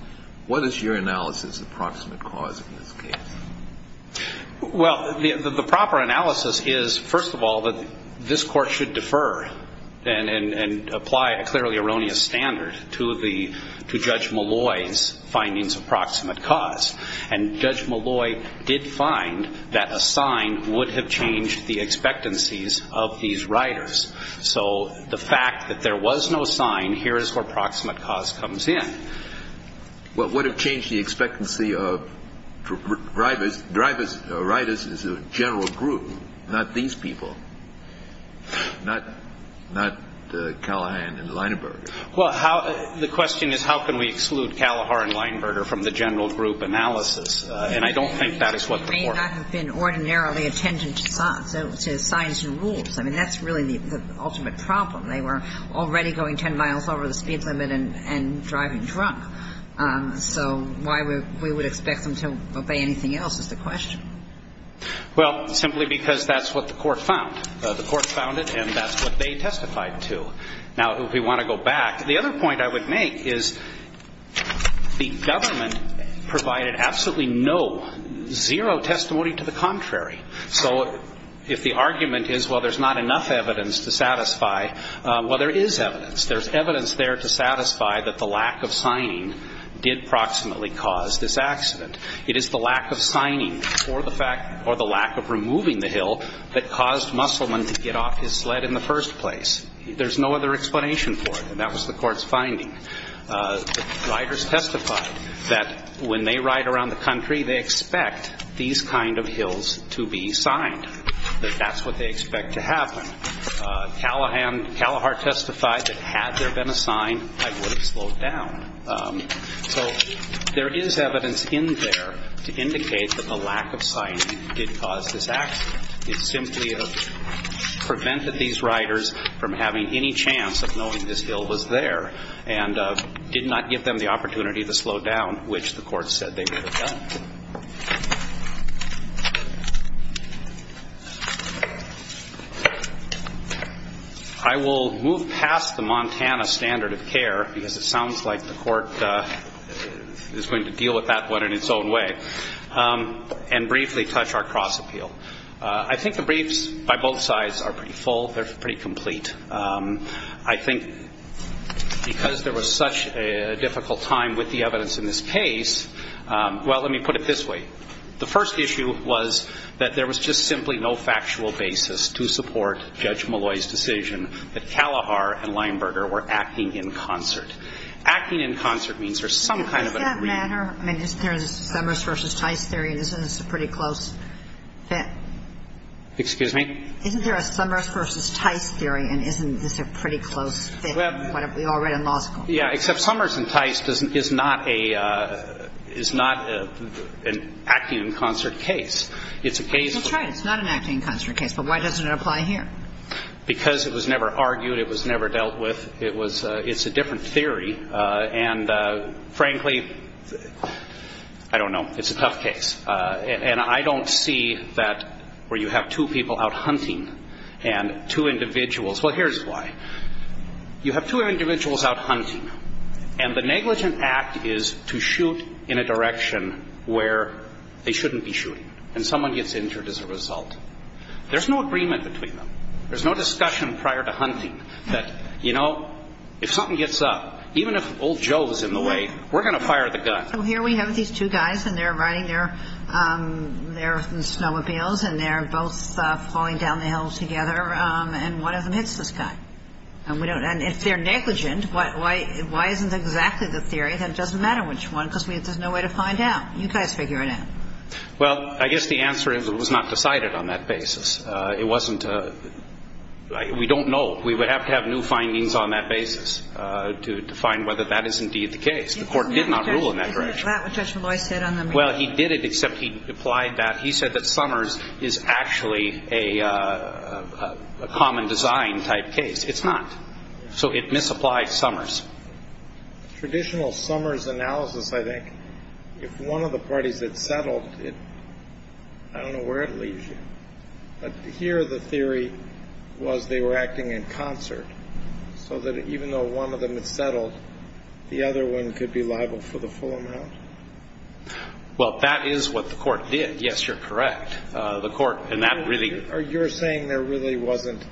What is your analysis of approximate cause in this case? Well, the proper analysis is, first of all, that this court should defer and apply a clearly erroneous standard to Judge Malloy's findings of approximate cause, and Judge Malloy did find that a sign would have changed the expectancies of these riders. So the fact that there was no sign, here is where approximate cause comes in. What would have changed the expectancy of riders is a general group, not these people, not Callahan and Leinberger. Well, the question is how can we exclude Callahan and Leinberger from the general group analysis, and I don't think that is what the court said. They hadn't been ordinarily attentive to signs and rules. I mean, that's really the ultimate problem. They were already going 10 miles over the speed limit and driving drunk. So why we would expect them to obey anything else is the question. Well, simply because that's what the court found. The court found it, and that's what they testified to. Now, if we want to go back, the other point I would make is the government provided absolutely no, zero testimony to the contrary. So if the argument is, well, there's not enough evidence to satisfy, well, there is evidence. There's evidence there to satisfy that the lack of signing did proximately cause this accident. It is the lack of signing or the lack of removing the hill that caused Musselman to get off his sled in the first place. There's no other explanation for it, and that was the court's finding. Riders testified that when they ride around the country, they expect these kind of hills to be signed, that that's what they expect to happen. Callahar testified that had there been a sign, I would have slowed down. So there is evidence in there to indicate that the lack of signing did cause this accident. It simply prevented these riders from having any chance of knowing this hill was there, and did not give them the opportunity to slow down, which the court said they would have done. I will move past the Montana standard of care, because it sounds like the court is going to deal with that one in its own way, and briefly touch our cross-appeal. I think the briefs by both sides are pretty full. They're pretty complete. I think because there was such a difficult time with the evidence in this case, well, let me put it this way. The first issue was that there was just simply no factual basis to support Judge Malloy's decision that Callahar and Lineberger were acting in concert. Acting in concert means there's some kind of agreement. In that manner, isn't there a Summers v. Tice theory, and isn't this a pretty close fit? Excuse me? Isn't there a Summers v. Tice theory, and isn't this a pretty close fit? We all read in law school. Yeah, except Summers v. Tice is not an acting in concert case. It's a case for- That's right, it's not an acting in concert case, but why doesn't it apply here? Because it was never argued, it was never dealt with. It's a different theory. Frankly, I don't know, it's a tough case. And I don't see that where you have two people out hunting, and two individuals- Well, here's why. You have two individuals out hunting, and the negligent act is to shoot in a direction where they shouldn't be shooting. And someone gets injured as a result. There's no agreement between them. There's no discussion prior to hunting. You know, if something gets up, even if old Joe is in the way, we're going to fire the gun. So here we have these two guys, and they're riding their snowmobiles, and they're both falling down the hill together, and one of them hits this guy. And if they're negligent, why isn't that the theory? It doesn't matter which one, because there's no way to find out. You guys figure it out. Well, I guess the answer is it was not decided on that basis. We don't know. We would have to have new findings on that basis to find whether that is indeed the case. The court did not rule in that direction. Well, he did it, except he said that Summers is actually a common design type case. It's not. So it misapplied Summers. Traditional Summers analysis, I think, if one of the parties had settled, I don't know where it leaves you. But here the theory was they were acting in concert, so that even though one of them had settled, the other one could be liable for the full amount. Well, that is what the court did. Yes, you're correct. You're saying there really wasn't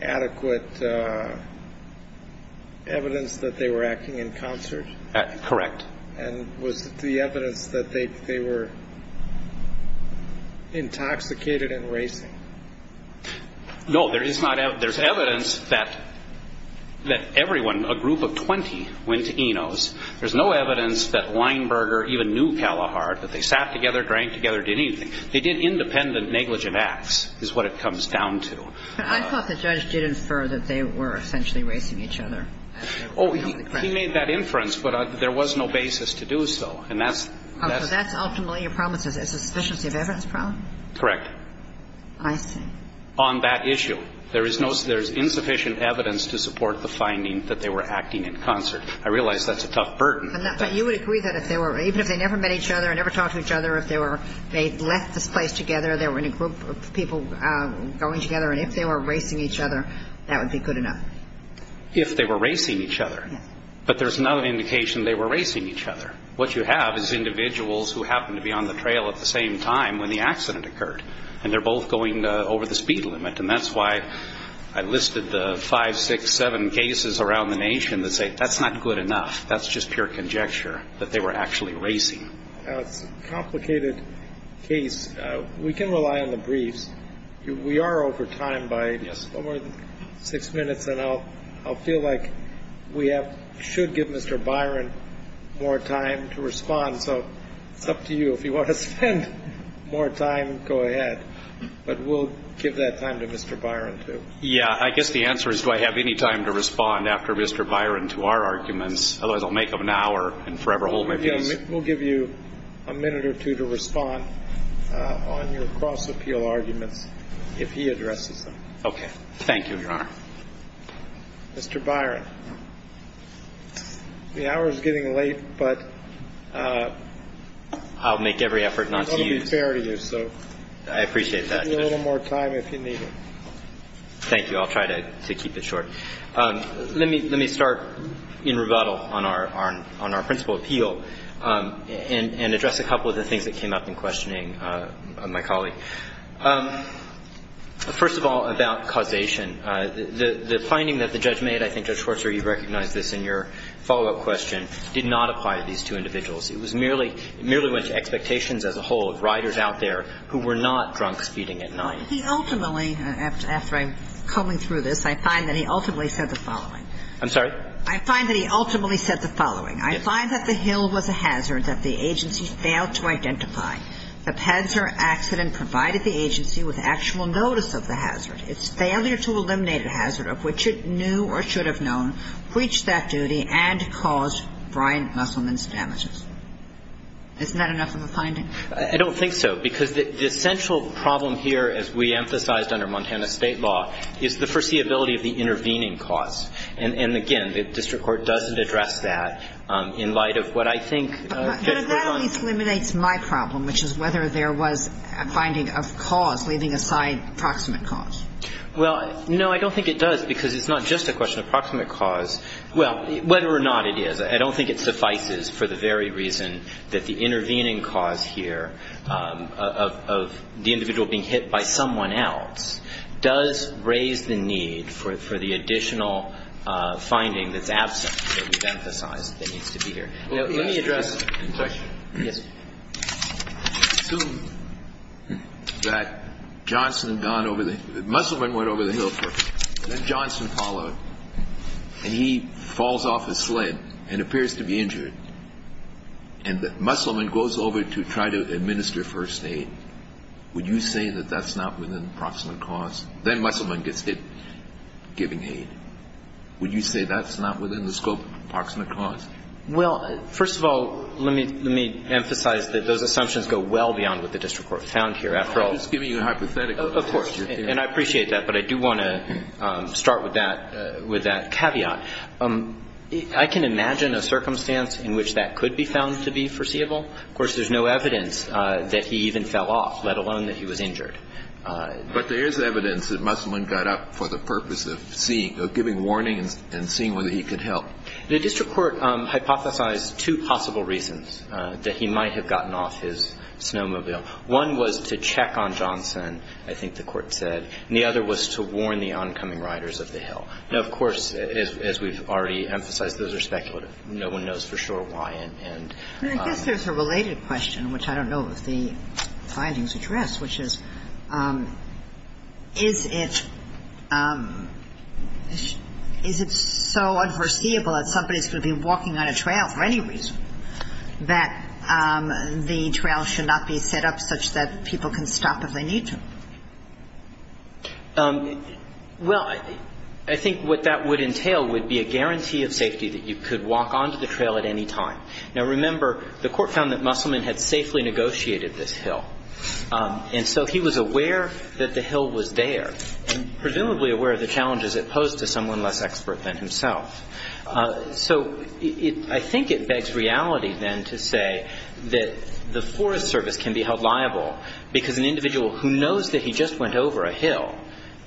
adequate evidence that they were acting in concert? Correct. And was the evidence that they were intoxicated and racing? No, there's evidence that everyone, a group of 20, went to Eno's. There's no evidence that Weinberger even knew Callahart, that they sat together, drank together, did anything. They did independent, negligent acts, is what it comes down to. I thought the judge did infer that they were essentially racing each other. Oh, he made that inference, but there was no basis to do so. So that's ultimately a problem. It's a sufficiency of evidence problem? Correct. I see. On that issue. There is insufficient evidence to support the finding that they were acting in concert. I realize that's a tough burden. But you would agree that if they were, even if they never met each other, never talked to each other, if they left the place together, there were any group of people going together, and if they were racing each other, that would be good enough? If they were racing each other. But there's no indication they were racing each other. What you have is individuals who happened to be on the trail at the same time when the accident occurred, and they're both going over the speed limit, and that's why I listed the five, six, seven cases around the nation that say that's not good enough. That's just pure conjecture that they were actually racing. It's a complicated case. We can rely on the briefs. We are over time by just over six minutes, and I'll feel like we should give Mr. Byron more time to respond. So it's up to you. If you want to spend more time, go ahead. But we'll give that time to Mr. Byron, too. Yeah, I guess the answer is do I have any time to respond after Mr. Byron to our arguments, otherwise I'll make them an hour and forever hold my case. We'll give you a minute or two to respond on your cross-appeal argument if he addresses them. Okay. Thank you, Your Honor. Mr. Byron, the hour is getting late, but... I'll make every effort not to. I appreciate that. A little more time if you need it. Thank you. I'll try to keep it short. Let me start in rebuttal on our principal appeal and address a couple of the things that came up in questioning my colleague. First of all, about causation, the finding that the judge made, I think Judge Schwarzer, you recognized this in your follow-up question, did not acquire these two individuals. It merely went to expectations as a whole of riders out there who were not drunk speeding at night. Ultimately, after combing through this, I find that he ultimately said the following. I'm sorry? I find that he ultimately said the following. I find that the hill was a hazard that the agency failed to identify. The Panzer accident provided the agency with actual notice of the hazard. Its failure to eliminate the hazard, of which it knew or should have known, breached that duty and caused Brian Musselman's damages. Isn't that enough of a finding? I don't think so because the central problem here, as we emphasized under Montana state law, is the foreseeability of the intervening cause. Again, the district court doesn't address that in light of what I think Judge Schwarzer- But that only eliminates my problem, which is whether there was a finding of cause, leaving aside approximate cause. Well, no, I don't think it does because it's not just a question of approximate cause. Well, whether or not it is, I don't think it suffices for the very reason that the intervening cause here of the individual being hit by someone else does raise the need for the additional finding that's absent, that we've emphasized that needs to be here. Let me address- Assume that Musselman went over the hill first, then Johnson followed, and he falls off his leg and appears to be injured, and that Musselman goes over to try to administer first aid. Would you say that that's not within approximate cause? Then Musselman gets hit, giving aid. Would you say that's not within the scope of approximate cause? Well, first of all, let me emphasize that those assumptions go well beyond what the district court found here. I'm just giving you a hypothetical. Of course. And I appreciate that, but I do want to start with that caveat. I can imagine a circumstance in which that could be found to be foreseeable. Of course, there's no evidence that he even fell off, let alone that he was injured. But there is evidence that Musselman got up for the purpose of giving warnings and seeing whether he could help. The district court hypothesized two possible reasons that he might have gotten off his snowmobile. One was to check on Johnson, I think the court said, and the other was to warn the oncoming riders of the hill. Now, of course, as we've already emphasized, those are speculative. No one knows for sure why. I guess there's a related question, which I don't know if the findings address, which is, is it so unforeseeable that somebody should be walking on a trail for any reason that the trail should not be set up such that people can stop if they need to? Well, I think what that would entail would be a guarantee of safety that you could walk onto the trail at any time. Now, remember, the court found that Musselman had safely negotiated this hill. And so he was aware that the hill was there, and presumably aware of the challenges it posed to someone less expert than himself. So I think it begs reality, then, to say that the Forest Service can be held liable because an individual who knows that he just went over a hill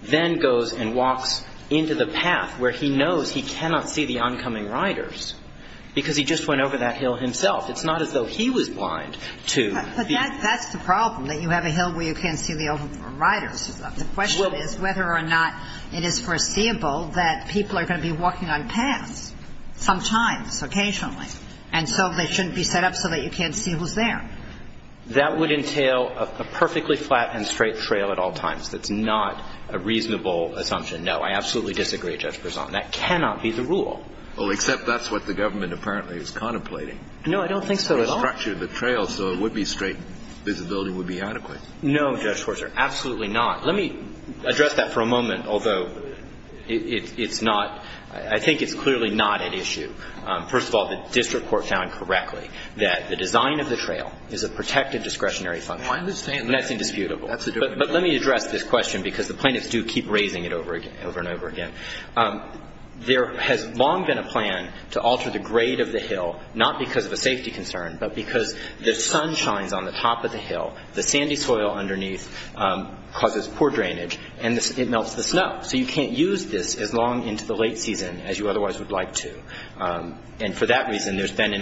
then goes and walks into the path where he knows he cannot see the oncoming riders because he just went over that hill himself. It's not as though he was blind to... But that's the problem, that you have a hill where you can't see the oncoming riders. The question is whether or not it is foreseeable that people are going to be walking on paths sometimes, occasionally, and so they shouldn't be set up so that you can't see who's there. That would entail a perfectly flat and straight trail at all times. That's not a reasonable assumption. No, I absolutely disagree with Judge Poisson. That cannot be the rule. Oh, except that's what the government apparently is contemplating. No, I don't think so at all. Structure of the trail so it would be straight, visibility would be adequate. No, Judge Poisson, absolutely not. Let me address that for a moment, although I think it's clearly not an issue. First of all, the district court found correctly that the design of the trail is a protected discretionary function. Why are they saying that? That's indisputable. Let me address this question because the plaintiffs do keep raising it over and over again. There has long been a plan to alter the grade of the hill, not because of a safety concern, but because the sun shines on the top of the hill, the sandy soil underneath causes poor drainage, and it melts the snow, so you can't use this as long into the late season as you otherwise would like to. For that reason, there's been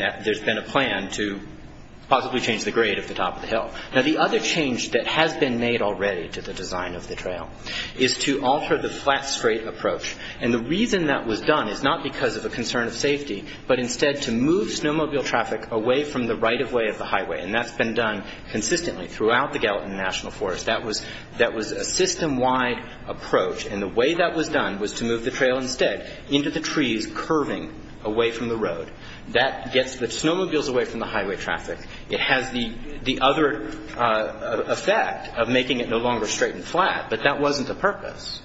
a plan to possibly change the grade at the top of the hill. Now, the other change that has been made already to the design of the trail is to alter the flat, straight approach, and the reason that was done is not because of a concern of safety, but instead to move snowmobile traffic away from the right-of-way of the highway, and that's been done consistently throughout the Gallatin National Forest. That was a system-wide approach, and the way that was done was to move the trail instead into the trees, curving away from the road. That gets the snowmobiles away from the highway traffic. It has the other effect of making it no longer straight and flat, but that wasn't the purpose.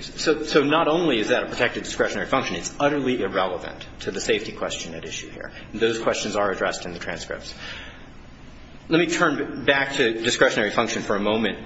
So not only is that a protective discretionary function, it's utterly irrelevant to the safety question at issue here, and those questions are addressed in the transcripts. Let me turn back to discretionary function for a moment,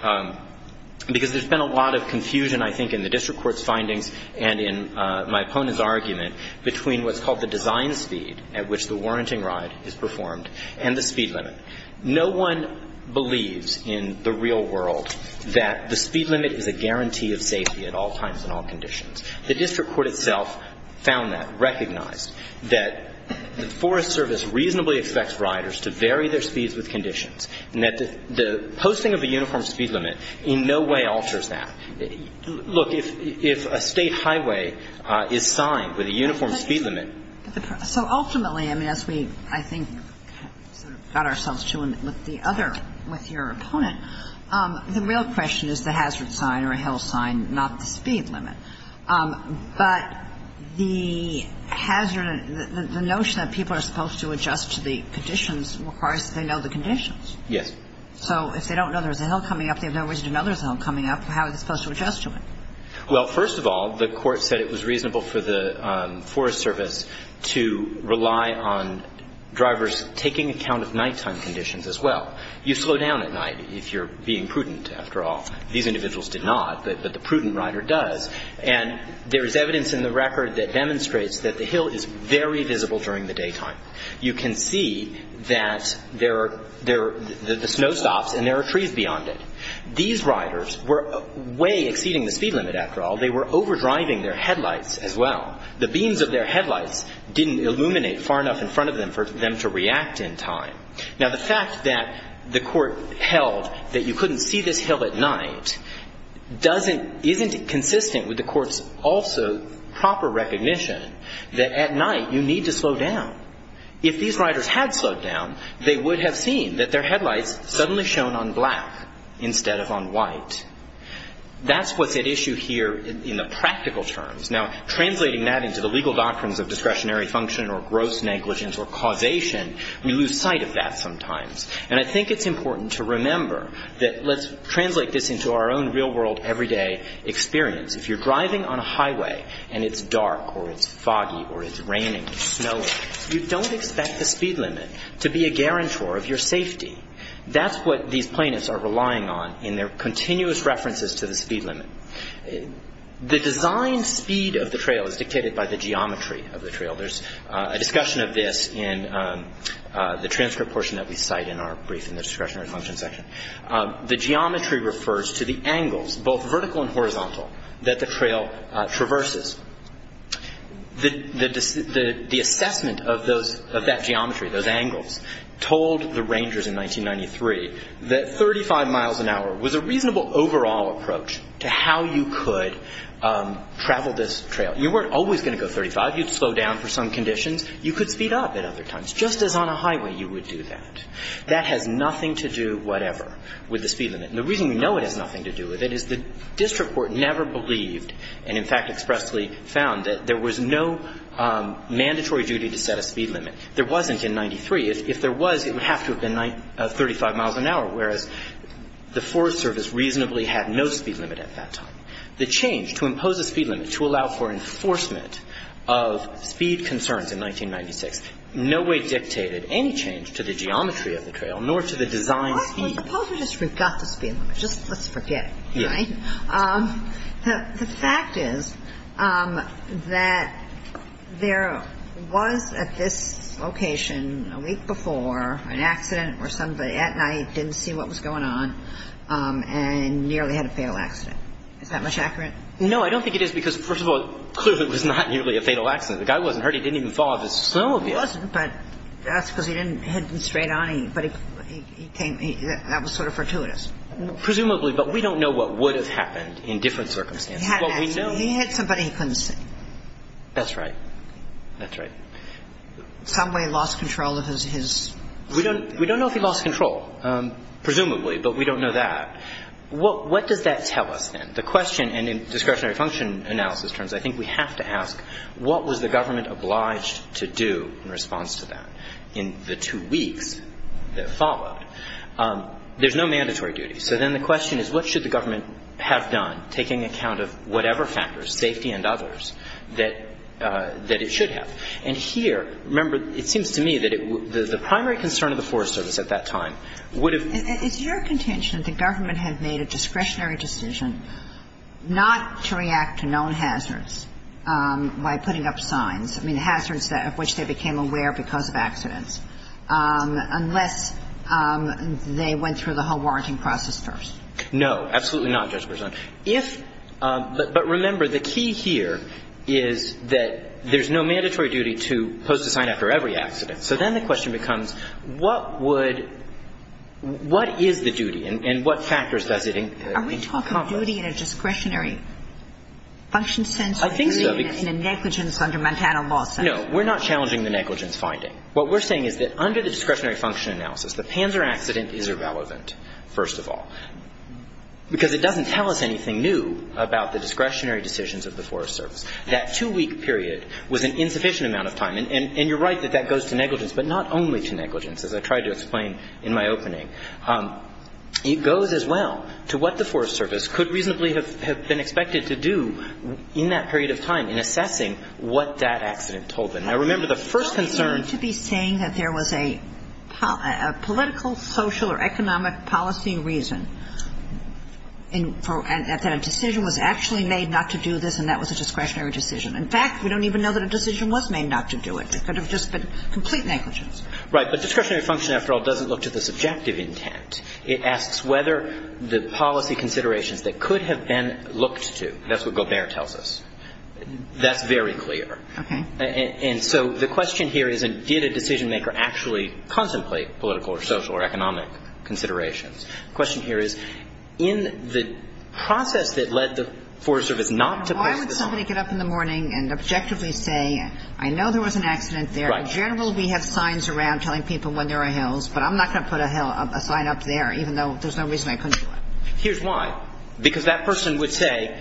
because there's been a lot of confusion, I think, in the district court's finding and in my opponent's argument between what's called the design speed at which the warranting ride is performed and the speed limit. No one believes in the real world that the speed limit is a guarantee of safety at all times and all conditions. The district court itself found that, recognized that the Forest Service reasonably expects riders to vary their speeds with conditions, and that the posting of a uniform speed limit in no way alters that. Look, if a state highway is signed with a uniform speed limit... So ultimately, I mean, as we, I think, got ourselves to with the other, with your opponent, the real question is the hazard sign or hill sign, not the speed limit. But the hazard, the notion that people are supposed to adjust to the conditions requires that they know the conditions. Yes. So if they don't know there's a hill coming up, they have no reason to know there's a hill coming up, how are they supposed to adjust to it? Well, first of all, the court said it was reasonable for the Forest Service to rely on drivers taking account of nighttime conditions as well. You slow down at night if you're being prudent, after all. These individuals did not, but the prudent rider does. And there's evidence in the record that demonstrates that the hill is very visible during the daytime. You can see that there are snowstops and there are trees beyond it. These riders were way exceeding the speed limit, after all. They were overdriving their headlights as well. The beams of their headlights didn't illuminate far enough in front of them for them to react in time. Now, the fact that the court held that you couldn't see this hill at night doesn't, isn't consistent with the court's also proper recognition that at night you need to slow down. If these riders had slowed down, they would have seen that their headlights suddenly shone on black instead of on white. That's what's at issue here in the practical terms. Now, translating that into the legal doctrines of discretionary function or gross negligence or causation, we lose sight of that sometimes. And I think it's important to remember that let's translate this into our own real-world, everyday experience. If you're driving on a highway and it's dark or it's foggy or it's raining or snowing, you don't expect the speed limit to be a guarantor of your safety. That's what these plaintiffs are relying on in their continuous references to the speed limit. The design speed of the trail is dictated by the geometry of the trail. There's a discussion of this in the transcript portion that we cite in our brief in the discretionary function section. The geometry refers to the angles, both vertical and horizontal, that the trail traverses. The assessment of that geometry, those angles, told the rangers in 1993 that 35 miles an hour was a reasonable overall approach to how you could travel this trail. You weren't always going to go 35. You'd slow down for some conditions. You could speed up at other times, just as on a highway you would do that. That has nothing to do, whatever, with the speed limit. The reason we know it has nothing to do with it is the district court never believed, and in fact expressly found, that there was no mandatory duty to set a speed limit. There wasn't in 1993. If there was, it would have to have been 35 miles an hour, whereas the Forest Service reasonably had no speed limit at that time. The change to impose a speed limit to allow for enforcement of speed concerns in 1996 in no way dictated any change to the geometry of the trail, nor to the design of the trail. Suppose we just reduce the speed limit. Let's forget it. The fact is that there was at this location a week before an accident where somebody at night didn't see what was going on and nearly had a fatal accident. Is that much accurate? No, I don't think it is because, first of all, it's clear that it was not nearly a fatal accident. The guy wasn't hurt. He didn't even fall. He wasn't, but that's because he didn't hit him straight on. That was sort of fortuitous. Presumably, but we don't know what would have happened in different circumstances. He had somebody who couldn't see. That's right. Somebody lost control of his... We don't know if he lost control, presumably, but we don't know that. What does that tell us then? The question, and in discretionary function analysis terms, I think we have to ask, what was the government obliged to do in response to that? In the two weeks that followed, there's no mandatory duty. So then the question is, what should the government have done, taking account of whatever factors, safety and others, that it should have? Here, remember, it seems to me that the primary concern of the Forest Service at that time would have... It's your contention that the government had made a discretionary decision not to react to known hazards by putting up signs, I mean hazards of which they became aware because of accidents, unless they went through the whole warranting process first. No, absolutely not, Judge Berzon. But remember, the key here is that there's no mandatory duty to post a sign after every accident. So then the question becomes, what would... What is the duty, and what factors does it... Are we talking about duty in a discretionary function sense, or in a negligence under Montana law sense? No, we're not challenging the negligence finding. What we're saying is that under the discretionary function analysis, the Panzer accident is irrelevant, first of all, because it doesn't tell us anything new about the discretionary decisions of the Forest Service. That two-week period was an insufficient amount of time, and you're right that that goes to negligence, but not only to negligence, as I tried to explain in my opening. It goes as well to what the Forest Service could reasonably have been expected to do in that period of time in assessing what that accident told them. And I remember the first concern... ...to be saying that there was a political, social, or economic policy reason that a decision was actually made not to do this, and that was a discretionary decision. In fact, we don't even know that a decision was made not to do it. It could have just been complete negligence. Right, but discretionary function, after all, doesn't look to the subjective intent. It asks whether the policy considerations that could have been looked to... That's what Gobert tells us. That's very clear. And so the question here is, did a decision-maker actually contemplate political, or social, or economic considerations? The question here is, in the process that led the Forest Service not to... Why would somebody get up in the morning and objectively say, I know there was an accident there. In general, we have signs around telling people when there are hills, but I'm not going to put a sign up there, even though there's no reason I couldn't. Here's why. Because that person would say,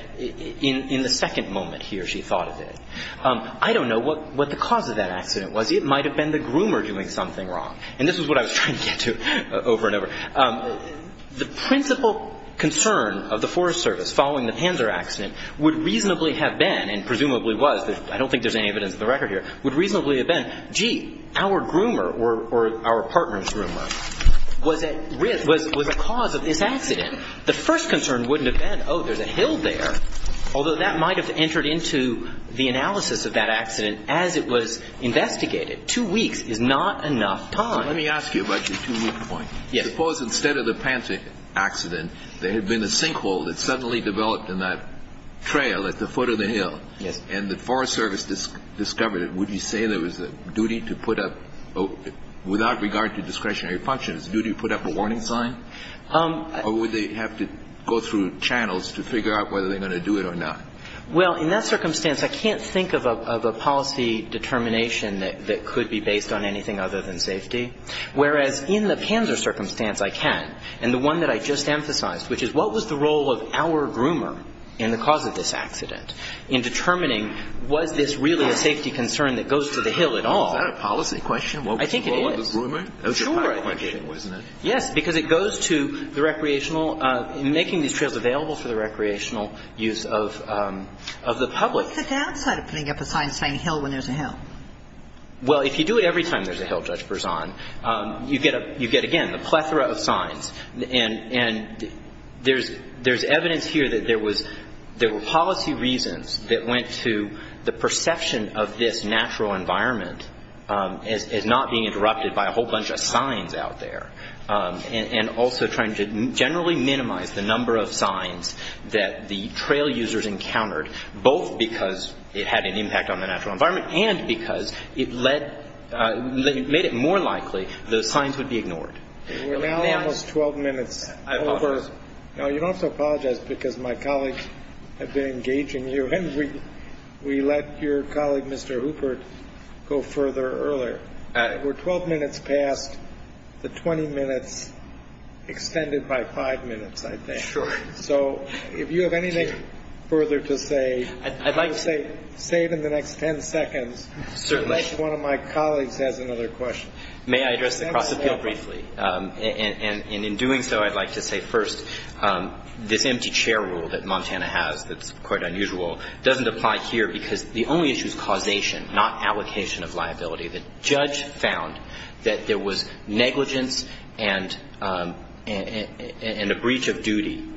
in the second moment he or she thought of it, I don't know what the cause of that accident was. It might have been the groomer doing something wrong. And this is what I was trying to get to over and over. The principal concern of the Forest Service, following the Panzer accident, would reasonably have been, and presumably was, I don't think there's any evidence of the record here, would reasonably have been, gee, our groomer, or our partner's groomer, was at risk, was the cause of this accident. The first concern wouldn't have been, oh, there's a hill there, although that might have entered into the analysis of that accident as it was investigated. Two weeks is not enough time. Let me ask you about your two-minute point. Suppose instead of the Panzer accident, there had been a sinkhole that suddenly developed in that trail at the foot of the hill, and the Forest Service discovered it. Would you say there was a duty to put up, without regard to discretionary functions, a duty to put up a warning sign? Or would they have to go through channels to figure out whether they're going to do it or not? Well, in that circumstance, I can't think of a policy determination that could be based on anything other than safety. Whereas in the Panzer circumstance, I can, and the one that I just emphasized, which is what was the role of our groomer in the cause of this accident in determining was this really a safety concern that goes to the hill at all? Is that a policy question? I think it is. What was the role of the groomer? Sure. That was your policy question, wasn't it? Yes, because it goes to the recreational, making these trails available for the recreational use of the public. What's the downside of putting up a sign saying hill when there's a hill? Well, if you do it every time there's a hill, Judge Berzon, you get, again, a plethora of signs. And there's evidence here that there were policy reasons that went to the perception of this natural environment as not being interrupted by a whole bunch of signs out there, and also trying to generally minimize the number of signs that the trail users encountered, both because it had an impact on the natural environment and because it made it more likely the signs would be ignored. We're now almost 12 minutes over. Now, you'd also apologize because my colleagues have been engaging you, and we let your colleague, Mr. Hooper, go further earlier. We're 12 minutes past the 20 minutes extended by five minutes, I think. Sure. So if you have anything further to say, save them the next ten seconds. Certainly. One of my colleagues has another question. May I address the process here briefly? And in doing so, I'd like to say first, this empty chair rule that Montana has that's quite unusual doesn't apply here because the only issue is causation, not allocation of liability. The judge found that there was negligence and a breach of duty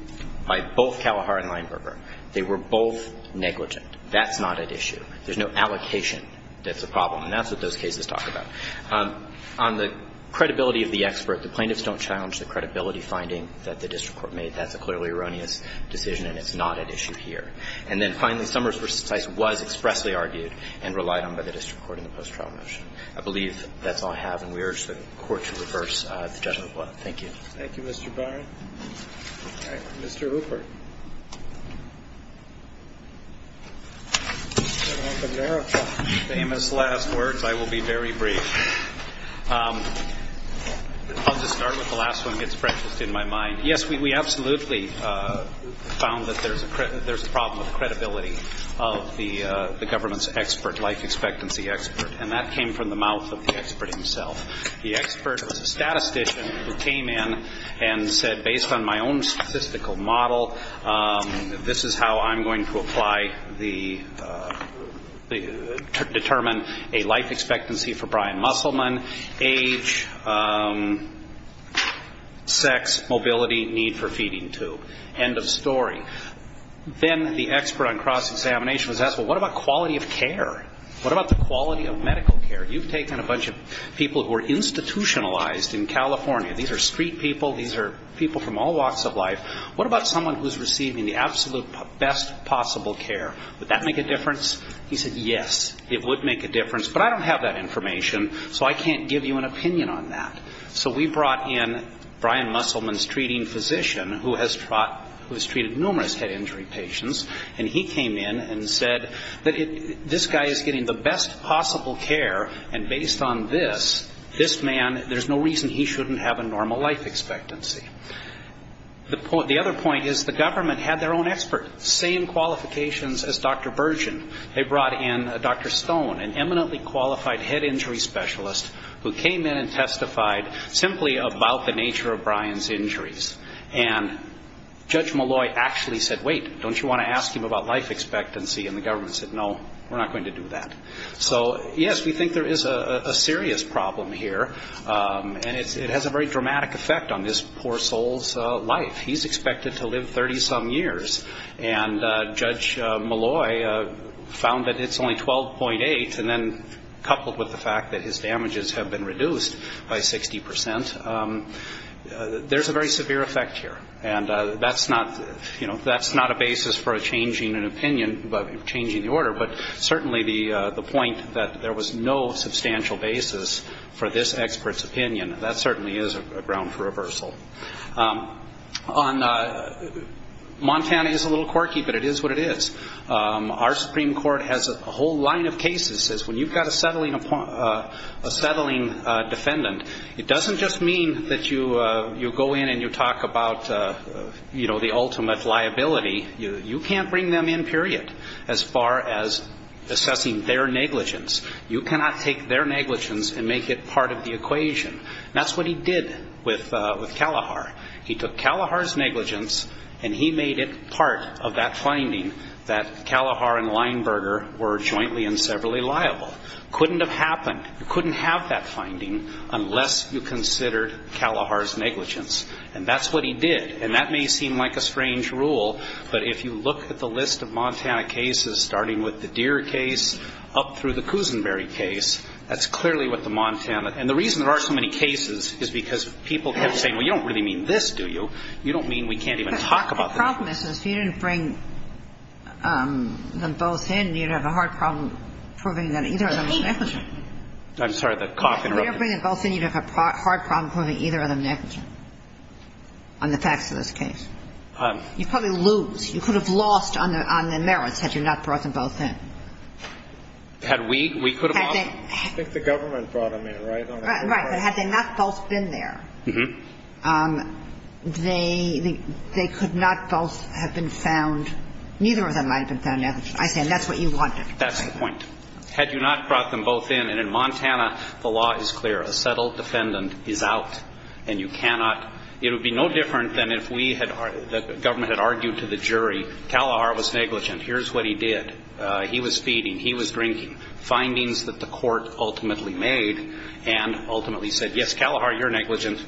by both Kalahar and Weinberger. They were both negligent. That's not at issue. There's no allocation that's a problem, and that's what this case is talking about. On the credibility of the experts, the plaintiffs don't challenge the credibility finding that the district court made. That's a clearly erroneous decision, and it's not at issue here. I believe that's all I have, and we urge the court to reverse the judgment of one. Thank you. Thank you, Mr. Bowring. All right. Mr. Rupert. If I may, I'll try to keep the same as the last words. I will be very brief. I'll just start with the last one that's freshest in my mind. Yes, we absolutely found that there's a problem with this case. There's a problem of credibility of the government's expert, life expectancy expert, and that came from the mouth of the expert himself. The expert was a statistician who came in and said, based on my own statistical model, this is how I'm going to apply the to determine a life expectancy for Brian Musselman, age, sex, mobility, need for feeding tube. End of story. Then the expert on cross-examination was asked, well, what about quality of care? What about the quality of medical care? You've taken a bunch of people who are institutionalized in California. These are street people. These are people from all walks of life. What about someone who's receiving the absolute best possible care? Would that make a difference? He said, yes, it would make a difference, but I don't have that information, so I can't give you an opinion on that. So we brought in Brian Musselman's treating physician, who has treated numerous head injury patients, and he came in and said that this guy is getting the best possible care, and based on this, this man, there's no reason he shouldn't have a normal life expectancy. The other point is the government had their own expert, same qualifications as Dr. Bergen. They brought in Dr. Stone, an eminently qualified head injury specialist, who came in and testified simply about the nature of Brian's injuries, and Judge Malloy actually said, wait, don't you want to ask him about life expectancy? And the government said, no, we're not going to do that. So, yes, we think there is a serious problem here, and it has a very dramatic effect on this poor soul's life. He's expected to live 30-some years, and Judge Malloy found that it's only 12.8, and then coupled with the fact that his damages have been reduced by 60%, there's a very severe effect here. And that's not a basis for changing an opinion, changing the order, but certainly the point that there was no substantial basis for this expert's opinion, that certainly is a ground for reversal. Montana is a little quirky, but it is what it is. Our Supreme Court has a whole line of cases that says when you've got a settling defendant, it doesn't just mean that you go in and you talk about the ultimate liability. You can't bring them in, period, as far as assessing their negligence. You cannot take their negligence and make it part of the equation. That's what he did with Kalahar. He took Kalahar's negligence, and he made it part of that finding that Kalahar and Leinberger were jointly and severally liable. It couldn't have happened. You couldn't have that finding unless you considered Kalahar's negligence, and that's what he did. And that may seem like a strange rule, but if you look at the list of Montana cases, starting with the Deere case up through the Kusinberry case, that's clearly what the Montana And the reason there aren't so many cases is because people keep saying, well, you don't really mean this, do you? You don't mean we can't even talk about this. The problem is, if you didn't bring them both in, you'd have a hard problem proving either of them negligent. I'm sorry, the coffee broke. If you didn't bring them both in, you'd have a hard problem proving either of them negligent on the facts of this case. You'd probably lose. You could have lost on the merits had you not brought them both in. Had we? We could have lost. I think the government brought them in, right? Right, but had they not both been there, they could not both have been found. Neither of them might have been found negligent. I think that's what you wanted. That's the point. Had you not brought them both in, and in Montana, the law is clear. A settled defendant is out, and you cannot. It would be no different than if the government had argued to the jury, Kalahar was negligent. Here's what he did. He was feeding, he was drinking. Findings that the court ultimately made, and ultimately said, yes, Kalahar, you're negligent.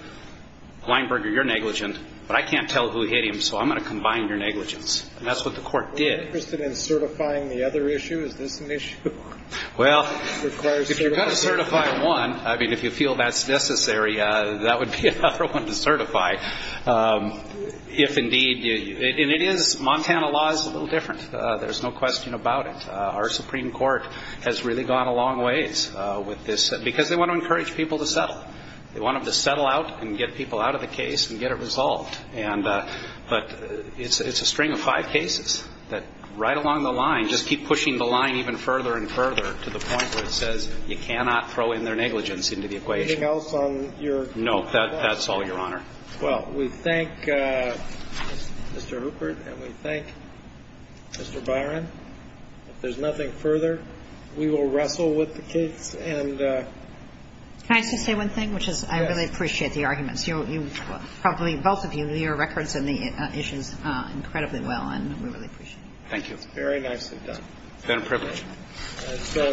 Weinberger, you're negligent. But I can't tell who hit him, so I'm going to combine your negligence. And that's what the court did. Are you interested in certifying the other issues? Is this an issue? Well, if you're going to certify one, I mean, if you feel that's necessary, that would be another one to certify. If indeed, and it is, Montana law is a little different. There's no question about it. Our Supreme Court has really gone a long ways with this, because they want to encourage people to settle. They want them to settle out and get people out of the case and get it resolved. But it's a string of five cases that right along the line just keep pushing the line even further and further to the point where it says you cannot throw in their negligence into the equation. Anything else on your? No, that's all, Your Honor. Well, we thank Mr. Rupert, and we thank Mr. Byron. If there's nothing further, we will wrestle with the case. Can I just say one thing, which is I really appreciate the arguments. You probably, both of you, do your records on the issue incredibly well, and we really appreciate it. Thank you. Very nicely done. It's been a privilege. And so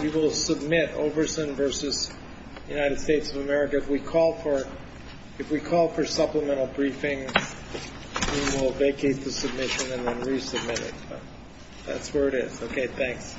we will submit Overson v. United States of America. If we call for supplemental briefing, we will vacate the submission and then resubmit it. So that's where it is. Okay, thanks.